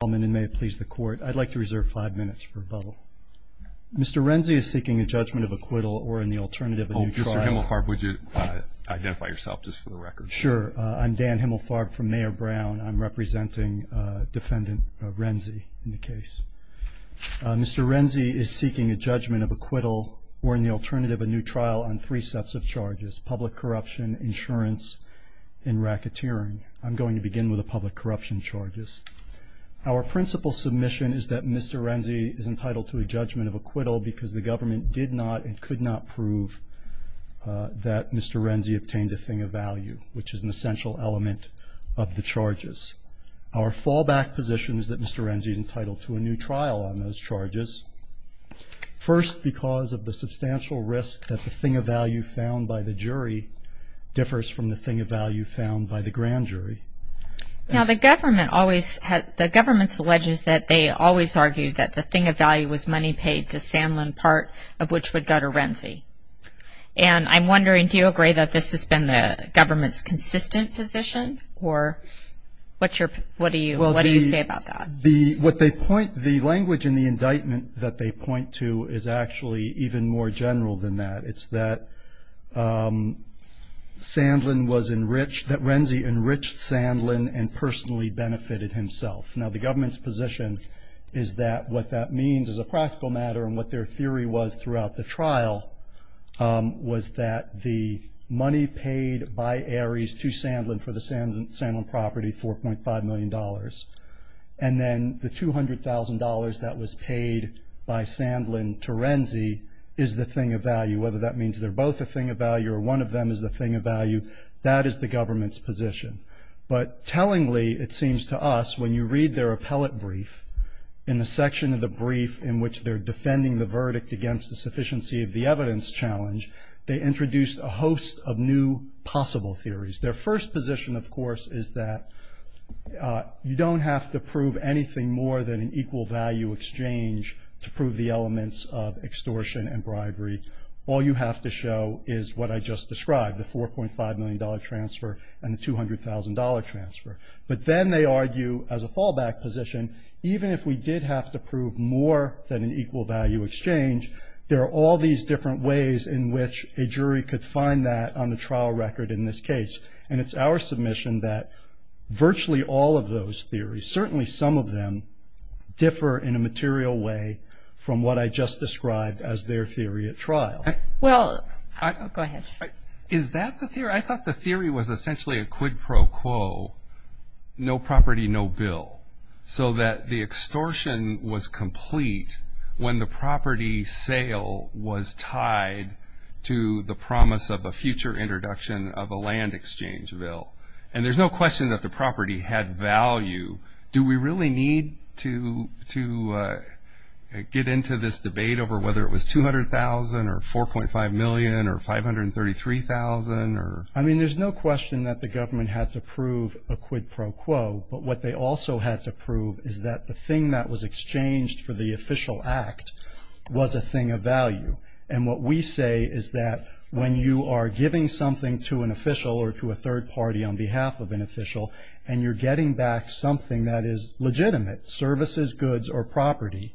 I'd like to reserve five minutes for a bubble. Mr. Renzi is seeking a judgment of acquittal or in the alternative a new trial. Oh, Mr. Himmelfarb, would you identify yourself just for the record? Sure, I'm Dan Himmelfarb from Mayor Brown. I'm representing defendant Renzi in the case. Mr. Renzi is seeking a judgment of acquittal or in the alternative a new trial on three sets of charges. Public corruption, insurance, and racketeering. I'm going to begin with the public corruption charges. Our principal submission is that Mr. Renzi is entitled to a judgment of acquittal because the government did not and could not prove that Mr. Renzi obtained a thing of value, which is an essential element of the charges. Our fallback position is that Mr. Renzi is entitled to a new trial on those charges, first because of the substantial risk that the thing of value found by the jury differs from the thing of value found by the grand jury. Now, the government always has, the government alleges that they always argued that the thing of value was money paid to Sanlin, part of which was daughter Renzi. And I'm wondering, do you agree that this has been the government's consistent position or what's your, what do you say about that? What they point, the language in the indictment that they point to is actually even more general than that. It's that Sanlin was enriched, that Renzi enriched Sanlin and personally benefited himself. Now, the government's position is that what that means as a practical matter and what their theory was throughout the trial was that the money paid by Ares to Sanlin for the Sanlin property, $4.5 million, and then the $200,000 that was paid by Sanlin to Renzi is the thing of value. Whether that means they're both a thing of value or one of them is the thing of value, that is the government's position. But tellingly, it seems to us, when you read their appellate brief, in the section of the brief in which they're defending the verdict against the sufficiency of the evidence challenge, they introduced a host of new possible theories. Their first position, of course, is that you don't have to prove anything more than an extortion and bribery. All you have to show is what I just described, the $4.5 million transfer and the $200,000 transfer. But then they argue as a fallback position, even if we did have to prove more than an equal value exchange, there are all these different ways in which a jury could find that on the trial record in this case. And it's our submission that virtually all of those theories, certainly some of them, differ in a material way from what I just described as their theory at trial. Well, I thought the theory was essentially a quid pro quo, no property, no bill. So that the extortion was complete when the property sale was tied to the promise of a future introduction of a land exchange bill. And there's no question that the property had value. Do we really need to get into this debate over whether it was $200,000 or $4.5 million or $533,000? I mean, there's no question that the government had to prove a quid pro quo, but what they also had to prove is that the thing that was exchanged for the official act was a thing of value. And what we say is that when you are giving something to an official or to a third party on behalf of an official and you're getting back something that is legitimate, services, goods, or property,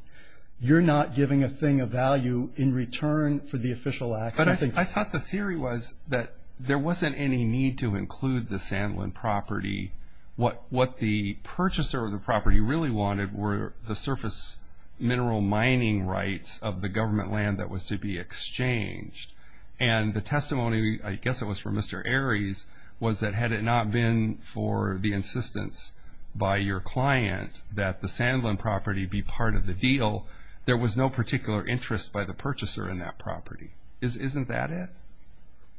you're not giving a thing of value in return for the official act. I thought the theory was that there wasn't any need to include the Sandland property. What the purchaser of the property really wanted were the surface mineral mining rights of the government land that was to be exchanged. And the testimony, I guess it was from Mr. Aries, was that had it not been for the insistence by your client that the Sandland property be part of the deal, there was no particular interest by the purchaser in that property. Isn't that it?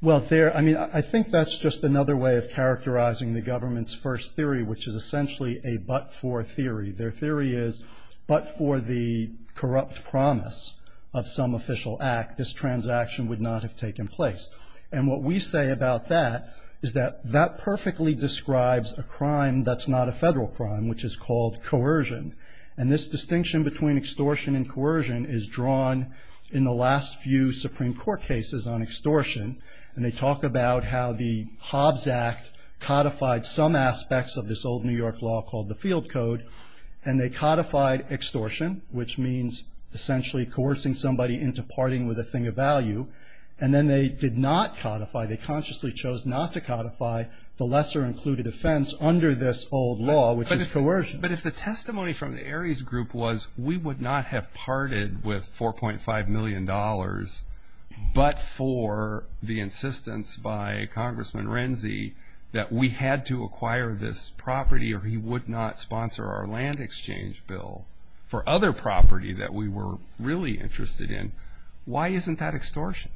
Well, I mean, I think that's just another way of characterizing the government's first theory, which is essentially a but-for theory. Their theory is, but for the corrupt promise of some official act, this transaction would not have taken place. And what we say about that is that that perfectly describes a crime that's not a federal crime, which is called coercion. And this distinction between extortion and coercion is drawn in the last few Supreme Court cases on extortion. And they talk about how the Hobbs Act codified some aspects of this old New York law called the Field Code. And they codified extortion, which means essentially coercing somebody into parting with a thing of value. And then they did not codify, they consciously chose not to codify the lesser included offense under this old law, which is coercion. But if the testimony from the Aries group was, we would not have parted with $4.5 million, but for the insistence by Congressman Renzi that we had to acquire this property or he would not sponsor our land exchange bill for other property that we were really interested in, why isn't that extortion?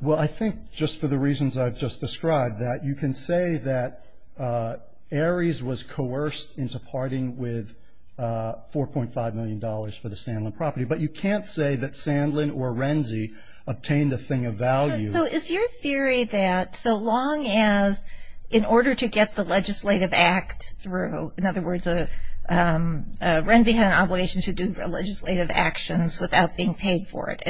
Well, I think just for the reasons I've just described that you can say that Aries was coerced into parting with $4.5 million for the Sandlin property. But you can't say that Sandlin or Renzi obtained a thing of value. So is your theory that so long as in order to get the legislative act through, in other And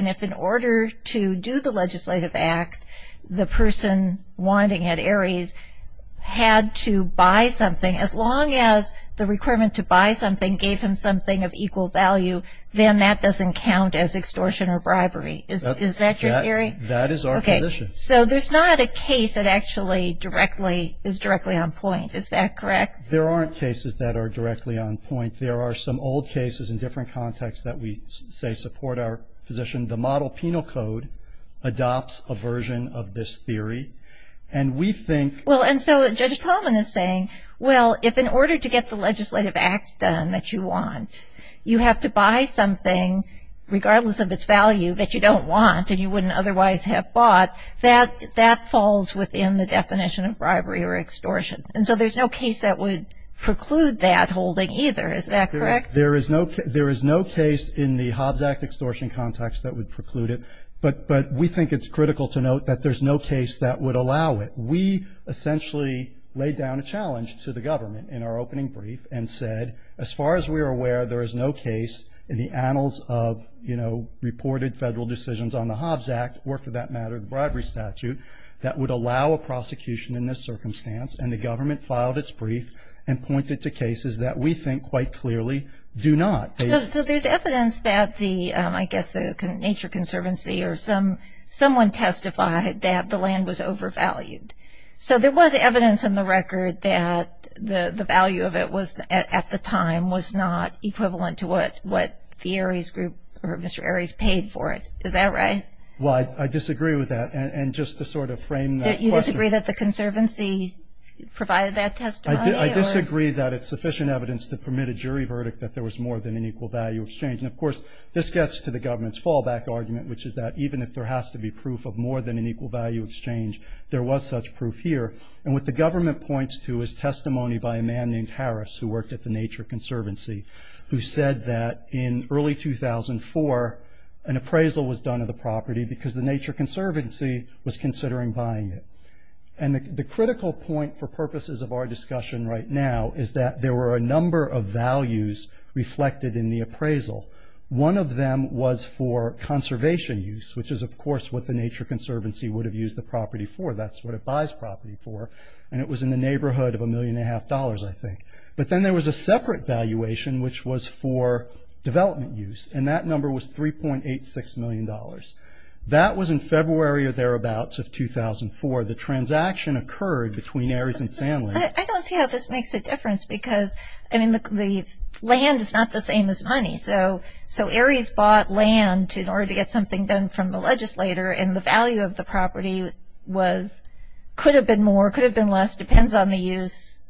if in order to do the legislative act, the person wanting at Aries had to buy something, as long as the requirement to buy something gave him something of equal value, then that doesn't count as extortion or bribery, is that your theory? That is our position. Okay. So there's not a case that actually directly is directly on point, is that correct? There aren't cases that are directly on point. There are some old cases in different contexts that we say support our position. The model penal code adopts a version of this theory. And we think Well, and so Judge Coleman is saying, well, if in order to get the legislative act done that you want, you have to buy something regardless of its value that you don't want and you wouldn't otherwise have bought, that falls within the definition of bribery or extortion. And so there's no case that would preclude that holding either, is that correct? There is no case in the Hobbs Act extortion context that would preclude it. But we think it's critical to note that there's no case that would allow it. We essentially laid down a challenge to the government in our opening brief and said, as far as we are aware, there is no case in the annals of, you know, reported federal decisions on the Hobbs Act, or for that matter, the bribery statute, that would allow a prosecution in this circumstance. And the government filed its brief and pointed to cases that we think quite clearly do not. So there's evidence that the, I guess the Nature Conservancy or someone testified that the land was overvalued. So there was evidence in the record that the value of it was, at the time, was not equivalent to what the ARIES group or Mr. ARIES paid for it. Is that right? And just to sort of frame that question. Do you disagree that the Conservancy provided that testimony? I disagree that it's sufficient evidence to permit a jury verdict that there was more than an equal value exchange. And of course, this gets to the government's fallback argument, which is that even if there has to be proof of more than an equal value exchange, there was such proof here. And what the government points to is testimony by a man named Harris, who worked at the Nature Conservancy, who said that in early 2004, an appraisal was done of the property because the Nature Conservancy was considering buying it. And the critical point for purposes of our discussion right now is that there were a number of values reflected in the appraisal. One of them was for conservation use, which is, of course, what the Nature Conservancy would have used the property for. That's what it buys property for. And it was in the neighborhood of a million and a half dollars, I think. But then there was a separate valuation, which was for development use. And that number was $3.86 million. That was in February or thereabouts of 2004. The transaction occurred between Harris and Sandlin. I don't see how this makes a difference because, I mean, the land is not the same as money. So, so Harris bought land in order to get something done from the legislator. And the value of the property was, could have been more, could have been less, depends on the use,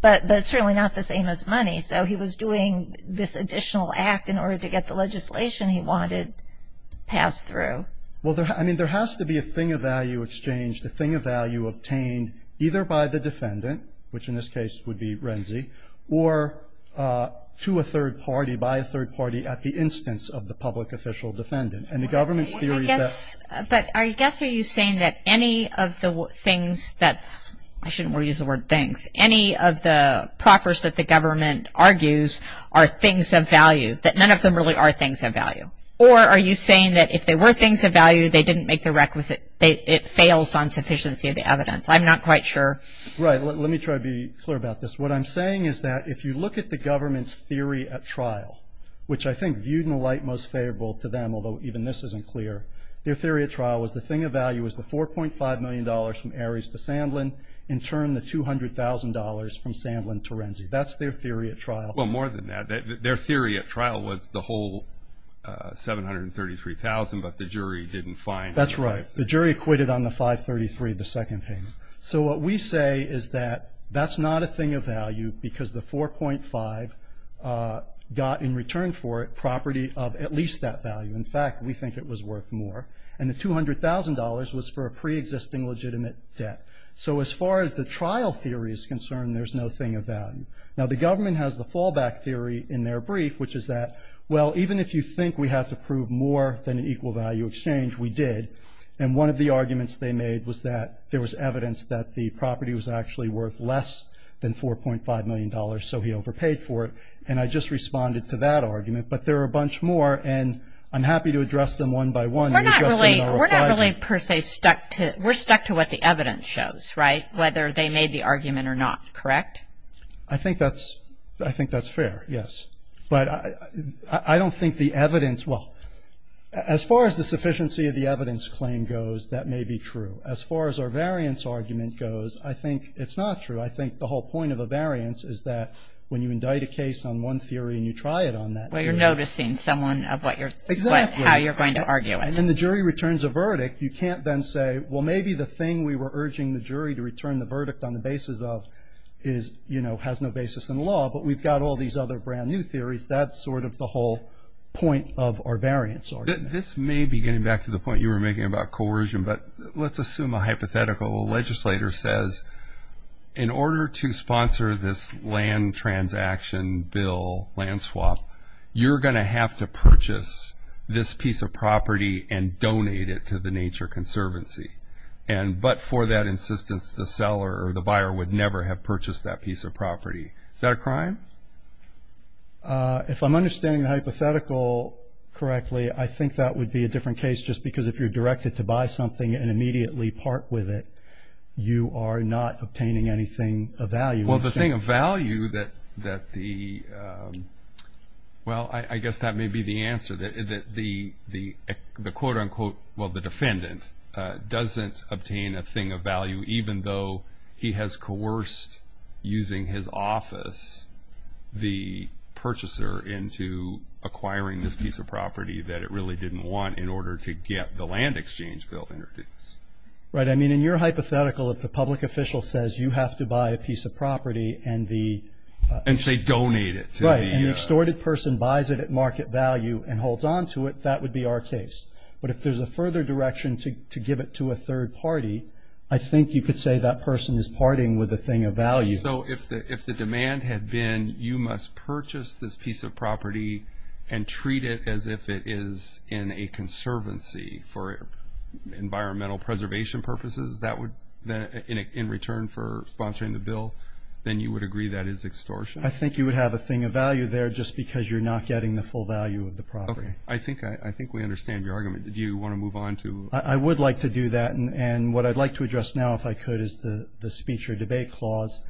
but that's really not the same as money. So he was doing this additional act in order to get the legislation he wanted passed through. Well, I mean, there has to be a thing of value exchange, a thing of value obtained either by the defendant, which in this case would be Renzi, or to a third party, by a third party at the instance of the public official defendant. And the government's theory is that... But I guess are you saying that any of the things that, I shouldn't use the word things, any of the proffers that the government argues are things of value, that none of them really are things of value? Or are you saying that if they were things of value, they didn't make the requisite, it fails on sufficiency of the evidence? I'm not quite sure. Right. Let me try to be clear about this. What I'm saying is that if you look at the government's theory at trial, which I think viewed in the light most favorable to them, although even this isn't clear, their theory at trial was the thing of value was the $4.5 million from Ares to Sandlin, in turn the $200,000 from Sandlin to Renzi. That's their theory at trial. Well, more than that, their theory at trial was the whole 733,000, but the jury didn't find... That's right. The jury acquitted on the 533, the second payment. So what we say is that that's not a thing of value because the 4.5 got in return for it property of at least that value. In fact, we think it was worth more. And the $200,000 was for a pre-existing legitimate debt. So as far as the trial theory is concerned, there's no thing of value. Now, the government has the fallback theory in their brief, which is that, well, even if you think we have to prove more than an equal value exchange, we did. And one of the arguments they made was that there was evidence that the property was actually worth less than $4.5 million, so he overpaid for it. And I just responded to that argument, but there are a bunch more, and I'm happy to address them one by one. We're not really per se stuck to... We're stuck to what the evidence shows, right, whether they made the argument or not, correct? I think that's fair, yes. But I don't think the evidence, well, as far as the sufficiency of the evidence claim goes, that may be true. As far as our variance argument goes, I think it's not true. I think the whole point of a variance is that when you indict a case on one theory and you try it on that... Well, you're noticing someone of what you're... Exactly. How you're going to argue it. And then the jury returns a verdict. You can't then say, well, maybe the thing we were urging the jury to return the verdict on the basis of is, you know, has no basis in law, but we've got all these other brand new theories. That's sort of the whole point of our variance argument. This may be getting back to the point you were making about coercion, but let's assume a hypothetical legislator says in order to sponsor this land transaction bill, land swap, you're going to have to purchase this piece of property and donate it to the Nature Conservancy. And but for that insistence, the seller or the buyer would never have purchased that piece of property. Is that a crime? If I'm understanding the hypothetical correctly, I think that would be a different case just because if you're directed to buy something and immediately part with it, you are not obtaining anything of value. Well, the thing of value that the, well, I guess that may be the answer that the quote unquote, well, the defendant doesn't obtain a thing of value, even though he has coerced using his office, the purchaser into acquiring this piece of property that it really didn't want in order to get the land exchange bill introduced. Right. I mean, in your hypothetical, if the public official says you have to buy a piece of property and the... And say donate it to the... Right. And the extorted person buys it at market value and holds on to it, that would be our case. But if there's a further direction to give it to a third party, I think you could say that person is parting with a thing of value. So if the demand had been, you must purchase this piece of property and treat it as if it is in a conservancy for environmental preservation purposes, that would, in return for sponsoring the bill, then you would agree that is extortion. I think you would have a thing of value there just because you're not getting the full value of the property. Okay. I think we understand your argument. Do you want to move on to... I would like to do that. And what I'd like to address now, if I could, is the speech or debate clause.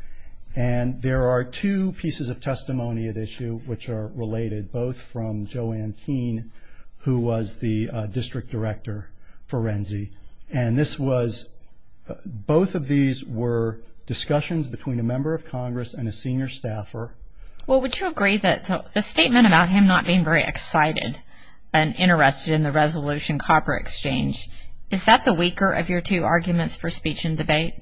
And there are two pieces of testimony at issue which are related, both from Joanne Keene, who was the district director for RENCI. And this was... Both of these were discussions between a member of Congress and a senior staffer. Well, would you agree that the statement about him not being very excited and interested in the Resolution Copper Exchange, is that the weaker of your two arguments for speech and debate?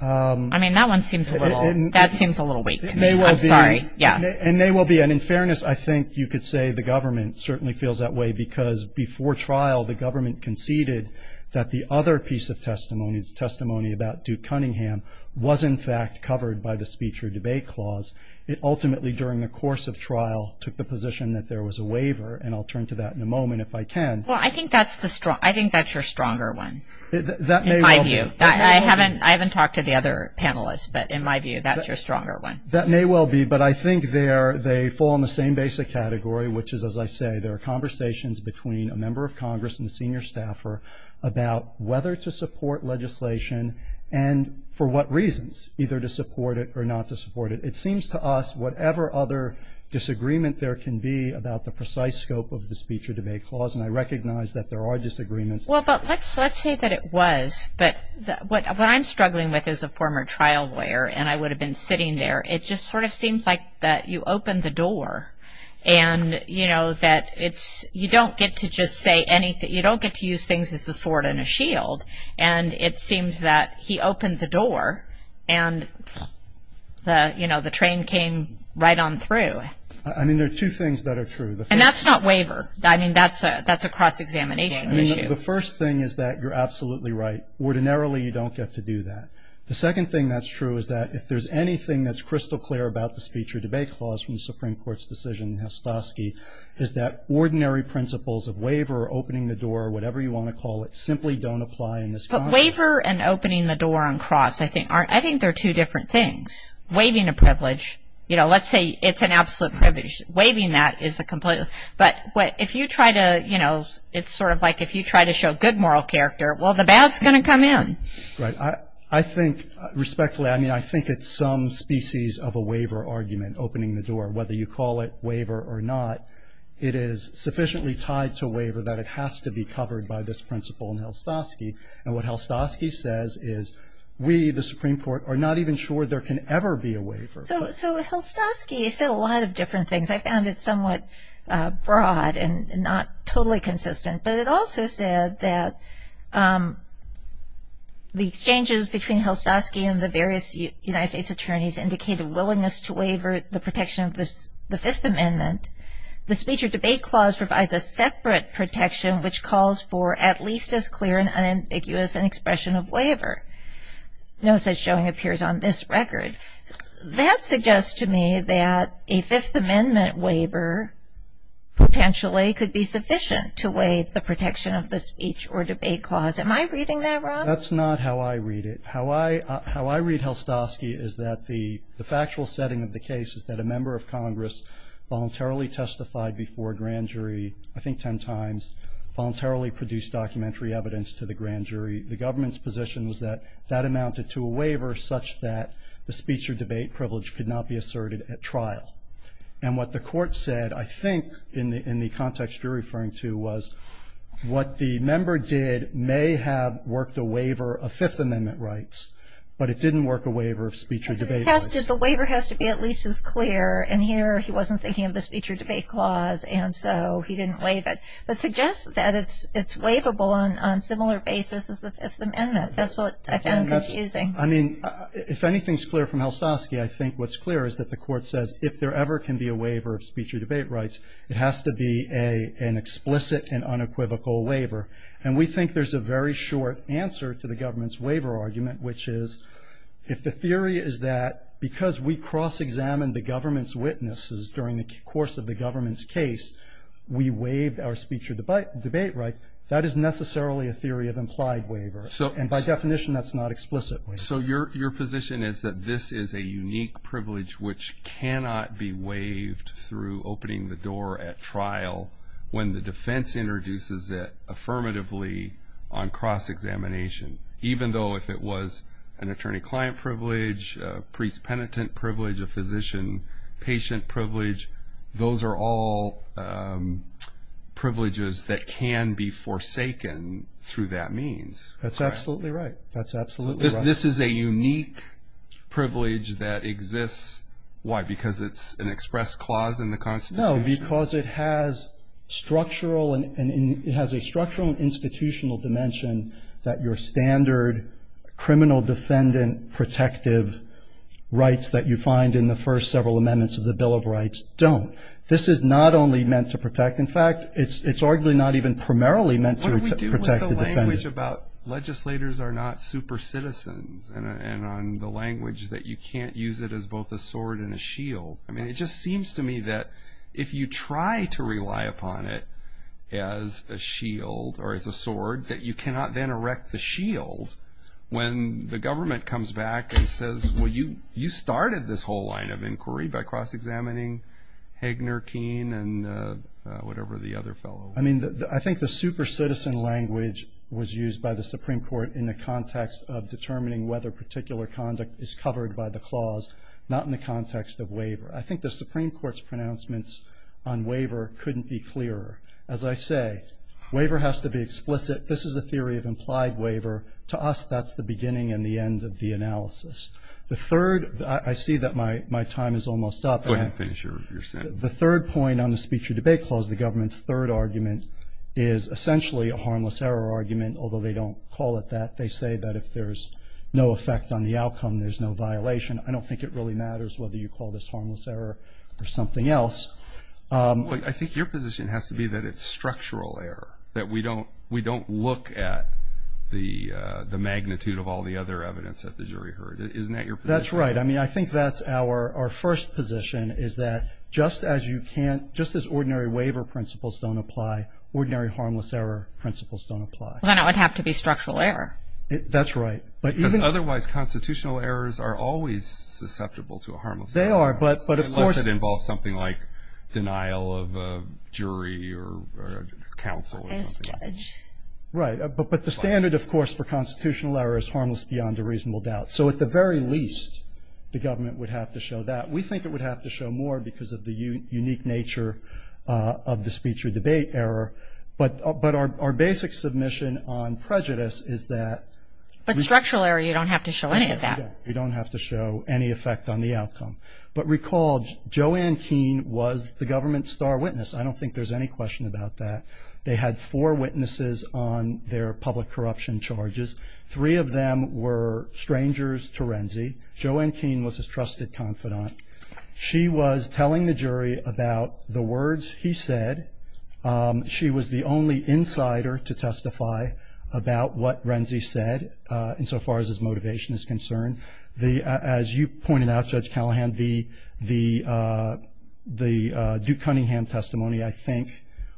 I mean, that one seems a little weak. I'm sorry. It may well be. Yeah. It may well be. And in fairness, I think you could say the government certainly feels that way because before trial, the government conceded that the other piece of testimony, the testimony about Duke Cunningham, was, in fact, covered by the speech or debate clause. It ultimately, during the course of trial, took the position that there was a waiver. And I'll turn to that in a moment, if I can. Well, I think that's your stronger one, in my view. I haven't talked to the other panelists, but in my view, that's your stronger one. That may well be. But I think they fall in the same basic category, which is, as I say, there are conversations between a member of Congress and a senior staffer about whether to support legislation and for what reasons, either to support it or not to support it. It seems to us, whatever other disagreement there can be about the precise scope of the speech or debate clause, and I recognize that there are disagreements. Well, but let's say that it was. But what I'm struggling with as a former trial lawyer, and I would have been sitting there, it just sort of seems like that you open the door and, you know, that it's, you don't get to just say anything. You don't get to use things as a sword and a shield. And it seems that he opened the door and the, you know, the train came right on through. I mean, there are two things that are true. And that's not waiver. I mean, that's a cross-examination. I mean, the first thing is that you're absolutely right. Ordinarily, you don't get to do that. The second thing that's true is that if there's anything that's crystal clear about the speech or debate clause from the Supreme Court's decision in Hastaski is that ordinary principles of waiver, opening the door, whatever you want to call it, simply don't apply in this context. But waiver and opening the door on cross, I think, are, I think they're two different things. Waiving a privilege, you know, let's say it's an absolute privilege. Waiving that is a complete. But if you try to, you know, it's sort of like if you try to show good moral character, well, the bad's going to come in. Right. I think, respectfully, I mean, I think it's some species of a waiver argument, opening the door. Whether you call it waiver or not, it is sufficiently tied to waiver that it has to be covered by this principle in Hastaski. And what Hastaski says is we, the Supreme Court, are not even sure there can ever be a waiver. So with Hastaski, he said a lot of different things. I found it somewhat broad and not totally consistent. But it also said that the exchanges between Hastaski and the various United States attorneys indicated a willingness to waiver the protection of the Fifth Amendment. The speech or debate clause provides a separate protection which calls for at least as clear and unambiguous an expression of waiver. No such showing appears on this record. That suggests to me that a Fifth Amendment waiver potentially could be sufficient to waive the protection of the speech or debate clause. Am I reading that wrong? That's not how I read it. How I read Hastaski is that the factual setting of the case is that a member of Congress voluntarily testified before a grand jury, I think 10 times, voluntarily produced documentary evidence to the grand jury. The government's position is that that amounted to a waiver such that the speech or debate privilege could not be asserted at trial. And what the court said, I think, in the context you're referring to, was what the member did may have worked a waiver of Fifth Amendment rights. But it didn't work a waiver of speech or debate rights. The waiver has to be at least as clear. And here, he wasn't thinking of the speech or debate clause, and so he didn't waive it. But suggests that it's waivable on similar basis as the Fifth Amendment. That's what I found confusing. I mean, if anything's clear from Hastaski, I think what's clear is that the court says if there ever can be a waiver of speech or debate rights, it has to be an explicit and unequivocal waiver. And we think there's a very short answer to the government's waiver argument, which is, if the theory is that because we cross-examined the government's witnesses during the course of the government's case, we waived our speech or debate right, that is necessarily a theory of implied waiver. And by definition, that's not explicit. So your position is that this is a unique privilege which cannot be waived through opening the door at trial when the defense introduces it affirmatively on cross-examination, even though if it was an attorney-client privilege, a priest-penitent privilege, a physician-patient privilege, those are all privileges that can be forsaken through that means. That's absolutely right. That's absolutely right. If this is a unique privilege that exists, why? Because it's an express clause in the Constitution? No, because it has structural and it has a structural and institutional dimension that your standard criminal defendant protective rights that you find in the first several amendments of the Bill of Rights don't. This is not only meant to protect. In fact, it's arguably not even primarily meant to protect the defendant. What do we do with the language about legislators are not super citizens and on the language that you can't use it as both a sword and a shield? I mean, it just seems to me that if you try to rely upon it as a shield or as a sword that you cannot then erect the shield when the government comes back and says, well, you started this whole line of inquiry by cross-examining Hegner, Keene, and whatever the other fellow. I mean, I think the super citizen language was used by the Supreme Court in the context of determining whether particular conduct is covered by the clause, not in the context of waiver. I think the Supreme Court's pronouncements on waiver couldn't be clearer. As I say, waiver has to be explicit. This is a theory of implied waiver. To us, that's the beginning and the end of the analysis. The third, I see that my time is almost up. The third point on the speech of debate clause, the government's third argument, is essentially a harmless error argument, although they don't call it that. They say that if there's no effect on the outcome, there's no violation. I don't think it really matters whether you call this harmless error or something else. I think your position has to be that it's structural error, that we don't look at the magnitude of all the other evidence that the jury heard. Isn't that your position? That's right. I mean, I think that's our first position, is that just as you can't, just as ordinary waiver principles don't apply, ordinary harmless error principles don't apply. Then it would have to be structural error. That's right. But otherwise, constitutional errors are always susceptible to a harmless error. They are. Unless it involves something like denial of a jury or counsel or something like that. Right. But the standard, of course, for constitutional error is harmless beyond a reasonable doubt. So at the very least, the government would have to show that. We think it would have to show more because of the unique nature of the speech or debate error. But our basic submission on prejudice is that. But structural error, you don't have to show any of that. We don't have to show any effect on the outcome. But recall, Joanne Keene was the government's star witness. I don't think there's any question about that. They had four witnesses on their public corruption charges. Three of them were strangers to Renzi. Joanne Keene was his trusted confidant. She was telling the jury about the words he said. She was the only insider to testify about what Renzi said insofar as his motivation is concerned. As you pointed out, Judge Callahan, the Duke Cunningham testimony, I think,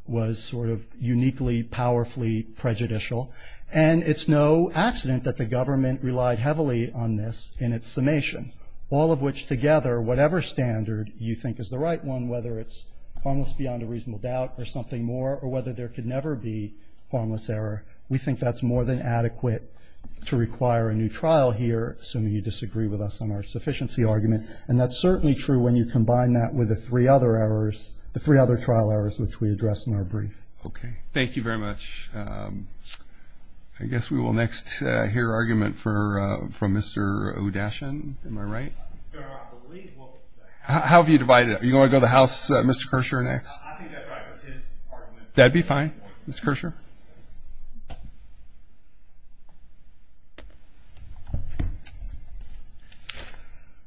was sort of uniquely, powerfully prejudicial. And it's no accident that the government relied heavily on this in its summation. All of which together, whatever standard you think is the right one, whether it's harmless beyond a reasonable doubt or something more, or whether there could never be harmless error, we think that's more than adequate to require a new trial here. Some of you disagree with us on our sufficiency argument. And that's certainly true when you combine that with the three other errors, the three other trial errors which we addressed in our brief. Okay. Thank you very much. I guess we will next hear argument from Mr. O'Dashen. Am I right? How have you divided it? Are you going to go to House Mr. Kershaw next? I think that's fine. That'd be fine. Mr. Kershaw?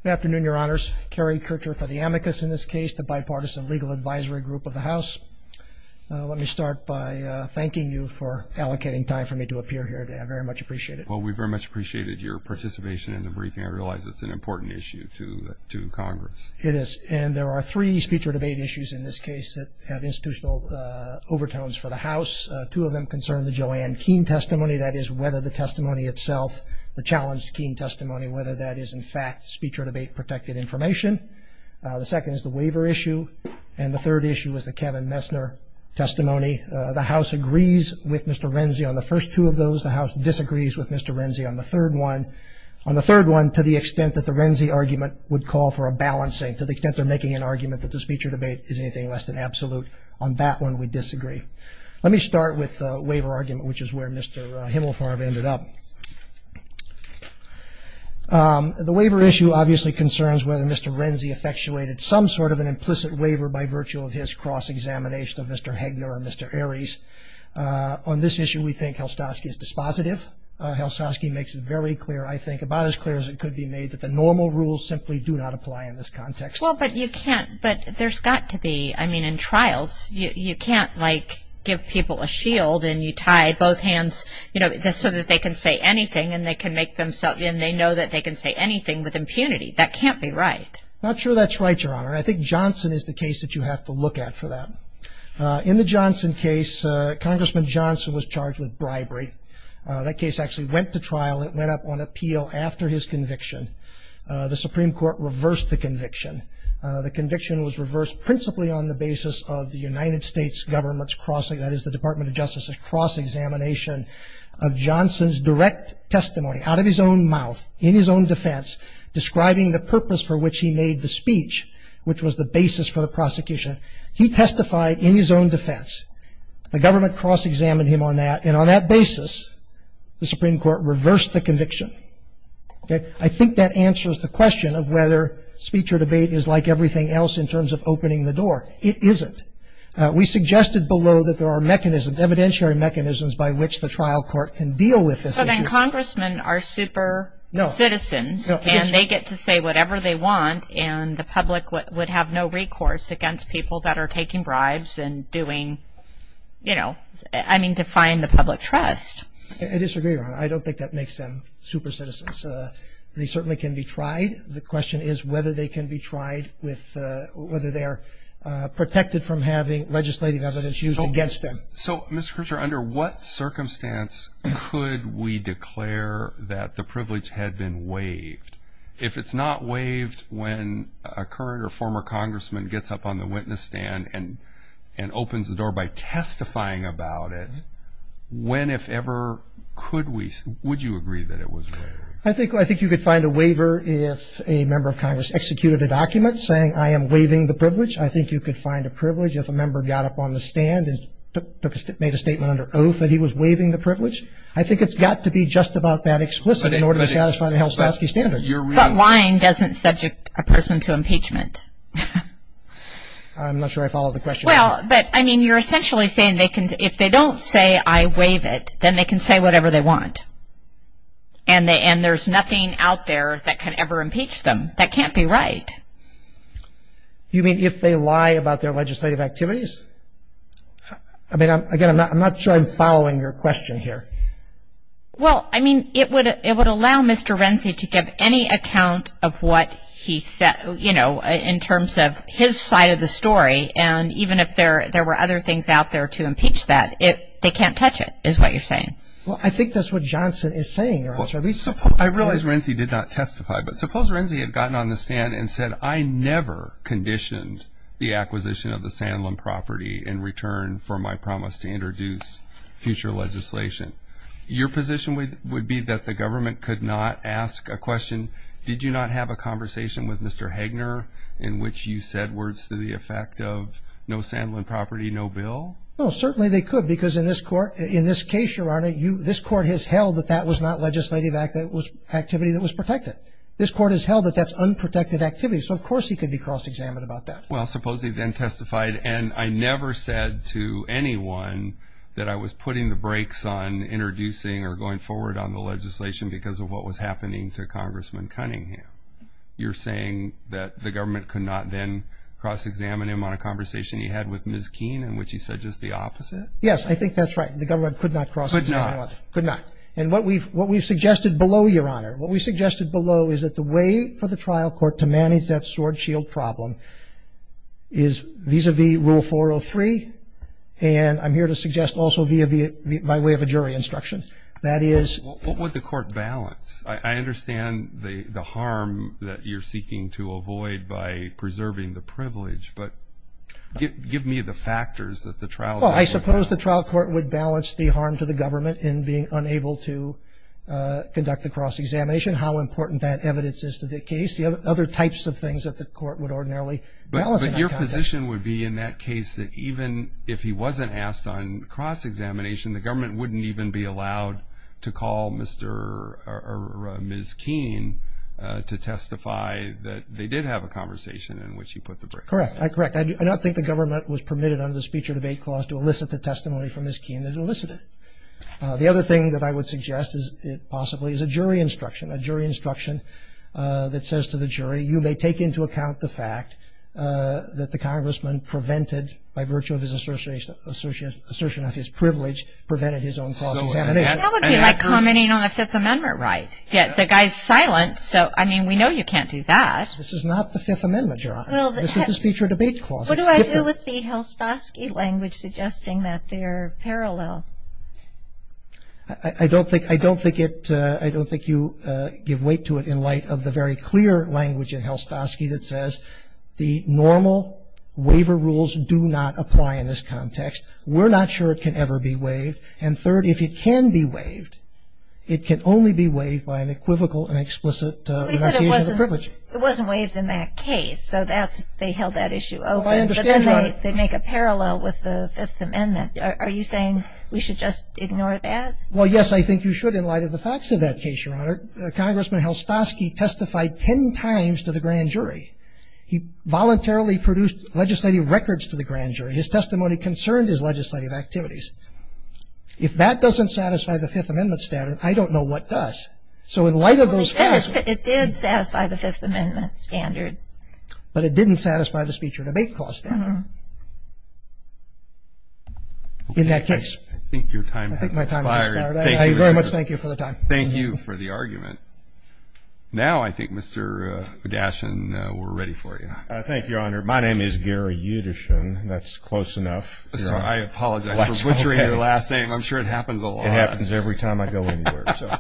Good afternoon, your honors. Kerry Kershaw for the amicus in this case, the bipartisan legal advisory group of the house. Let me start by thanking you for allocating time for me to appear here today. I very much appreciate it. Well, we very much appreciated your participation in the briefing. I realize it's an important issue to Congress. It is. And there are three speech or debate issues in this case that have institutional overtones for the house. Two of them concern the Joanne Keene testimony, that is whether the testimony itself, the challenged Keene testimony, whether that is in fact speech or debate protected information. The second is the waiver issue. And the third issue is the Kevin Messner testimony. The house agrees with Mr. Renzi on the first two of those. The house disagrees with Mr. Renzi on the third one. On the third one, to the extent that the Renzi argument would call for a balancing, to the extent they're making an argument that the speech or debate is anything less than absolute, on that one, we disagree. Let me start with the waiver argument, which is where Mr. Himmelfarb ended up. The waiver issue obviously concerns whether Mr. Renzi effectuated some sort of an implicit waiver by virtue of his cross-examination of Mr. Hegner and Mr. Aries. On this issue, we think Helstowski is dispositive. Helstowski makes it very clear, I think, about as clear as it could be made that the normal rules simply do not apply in this context. Well, but you can't, but there's got to be, I mean, in trials, you can't, like, give people a shield and you tie both hands, you know, just so that they can say anything and they can make themselves, and they know that they can say anything with impunity. That can't be right. Not sure that's right, Your Honor. I think Johnson is the case that you have to look at for that. In the Johnson case, Congressman Johnson was charged with bribery. That case actually went to trial. It went up on appeal after his conviction. The Supreme Court reversed the conviction. The conviction was reversed principally on the basis of the United States government's crossing, that is, the Department of Justice's cross-examination of Johnson's direct testimony out of his own mouth, in his own defense, describing the purpose for which he made the speech, which was the basis for the prosecution. He testified in his own defense. The government cross-examined him on that, and on that basis, the Supreme Court reversed the conviction. I think that answers the question of whether speech or debate is like everything else in terms of opening the door. It isn't. We suggested below that there are mechanisms, evidentiary mechanisms, by which the trial court can deal with this issue. But then congressmen are super citizens, and they get to say whatever they want, and the public would have no recourse against people that are taking bribes and doing, you know, I mean, defying the public trust. I disagree, Your Honor. I don't think that makes them super citizens. They certainly can be tried. The question is whether they can be tried with, whether they're protected from having legislative evidence used against them. So, Mr. Crutcher, under what circumstance could we declare that the privilege had been waived? If it's not waived when a current or former congressman gets up on the witness stand and opens the door by testifying about it, when, if ever, could we, would you agree that it was waived? I think you could find a waiver if a member of congress executed a document saying, I am waiving the privilege. I think you could find a privilege if a member got up on the stand and made a statement under oath that he was waiving the privilege. I think it's got to be just about that explicit in order to satisfy the Helsopowski standards. But lying doesn't subject a person to impeachment. I'm not sure I follow the question. Well, but, I mean, you're essentially saying they can, if they don't say I waive it, then they can say whatever they want. And there's nothing out there that can ever impeach them. That can't be right. You mean if they lie about their legislative activities? I mean, again, I'm not sure I'm following your question here. Well, I mean, it would allow Mr. Renzi to get any account of what he said, you know, in terms of his side of the story. And even if there were other things out there to impeach that, they can't touch it is what you're saying. Well, I think that's what Johnson is saying. I realize Renzi did not testify. But suppose Renzi had gotten on the stand and said, I never conditioned the acquisition of the Sanlum property in return for my promise to introduce future legislation. Your position would be that the government could not ask a question, did you not have a conversation with Mr. Hagner in which you said words to the effect of no Sanlum property, no bill? Well, certainly they could. Because in this court, in this case, Your Honor, this court has held that that was not legislative activity that was protected. This court has held that that's unprotected activity. So, of course, he could be cross-examined about that. Well, supposedly then testified, and I never said to anyone that I was putting the brakes on introducing or going forward on the legislation because of what was happening to Congressman Cunningham. You're saying that the government could not then cross-examine him on a conversation he had with Ms. Keene in which he said just the opposite? Yes, I think that's right. The government could not cross-examine him. Could not. And what we've suggested below, Your Honor, what we suggested below is that the way for the trial court to manage that sword shield problem is vis-a-vis Rule 403. And I'm here to suggest also via my way of a jury instruction. That is. What would the court balance? I understand the harm that you're seeking to avoid by preserving the privilege, but give me the factors that the trial court. Well, I suppose the trial court would balance the harm to the government in being unable to conduct a cross-examination, how important that evidence is to the case, the other types of things that the court would ordinarily balance. But your position would be in that case that even if he wasn't asked on cross-examination, the government wouldn't even be allowed to call Mr. or Ms. Keene to testify that they did have a conversation in which he put the briefcase. Correct. I correct. I do not think the government was permitted under the Speech or Debate Clause to elicit the testimony from Ms. Keene that elicited it. The other thing that I would suggest is possibly is a jury instruction. A jury instruction that says to the jury, you may take into account the fact that the congressman prevented, by virtue of his assertion of his privilege, prevented his own cross-examination. That would be like commenting on a Fifth Amendment right. Yes, the guy's silent, so I mean, we know you can't do that. This is not the Fifth Amendment, Your Honor. This is the Speech or Debate Clause. What do I do with the Helstovsky language suggesting that they're parallel? I don't think you give weight to it in light of the very clear language of Helstovsky that says the normal waiver rules do not apply in this context. We're not sure it can ever be waived. And third, if it can be waived, it can only be waived by an equivocal and explicit enunciation of a privilege. But it wasn't waived in that case. So that's, they held that issue open, but then they make a parallel with the Fifth Amendment. Are you saying we should just ignore that? Well, yes, I think you should in light of the facts of that case, Your Honor. Congressman Helstovsky testified 10 times to the grand jury. He voluntarily produced legislative records to the grand jury. His testimony concerned his legislative activities. If that doesn't satisfy the Fifth Amendment standard, I don't know what does. So in light of those facts. It did satisfy the Fifth Amendment standard. But it didn't satisfy the Speech or Debate Clause. In that case. I think your time has expired. Thank you. I very much thank you for the time. Thank you for the argument. Now I think Mr. Gashin, we're ready for you. Thank you, Your Honor. My name is Gary Yudishin. That's close enough. I apologize for butchering your last name. I'm sure it happens a lot. It happens every time I go anywhere. Your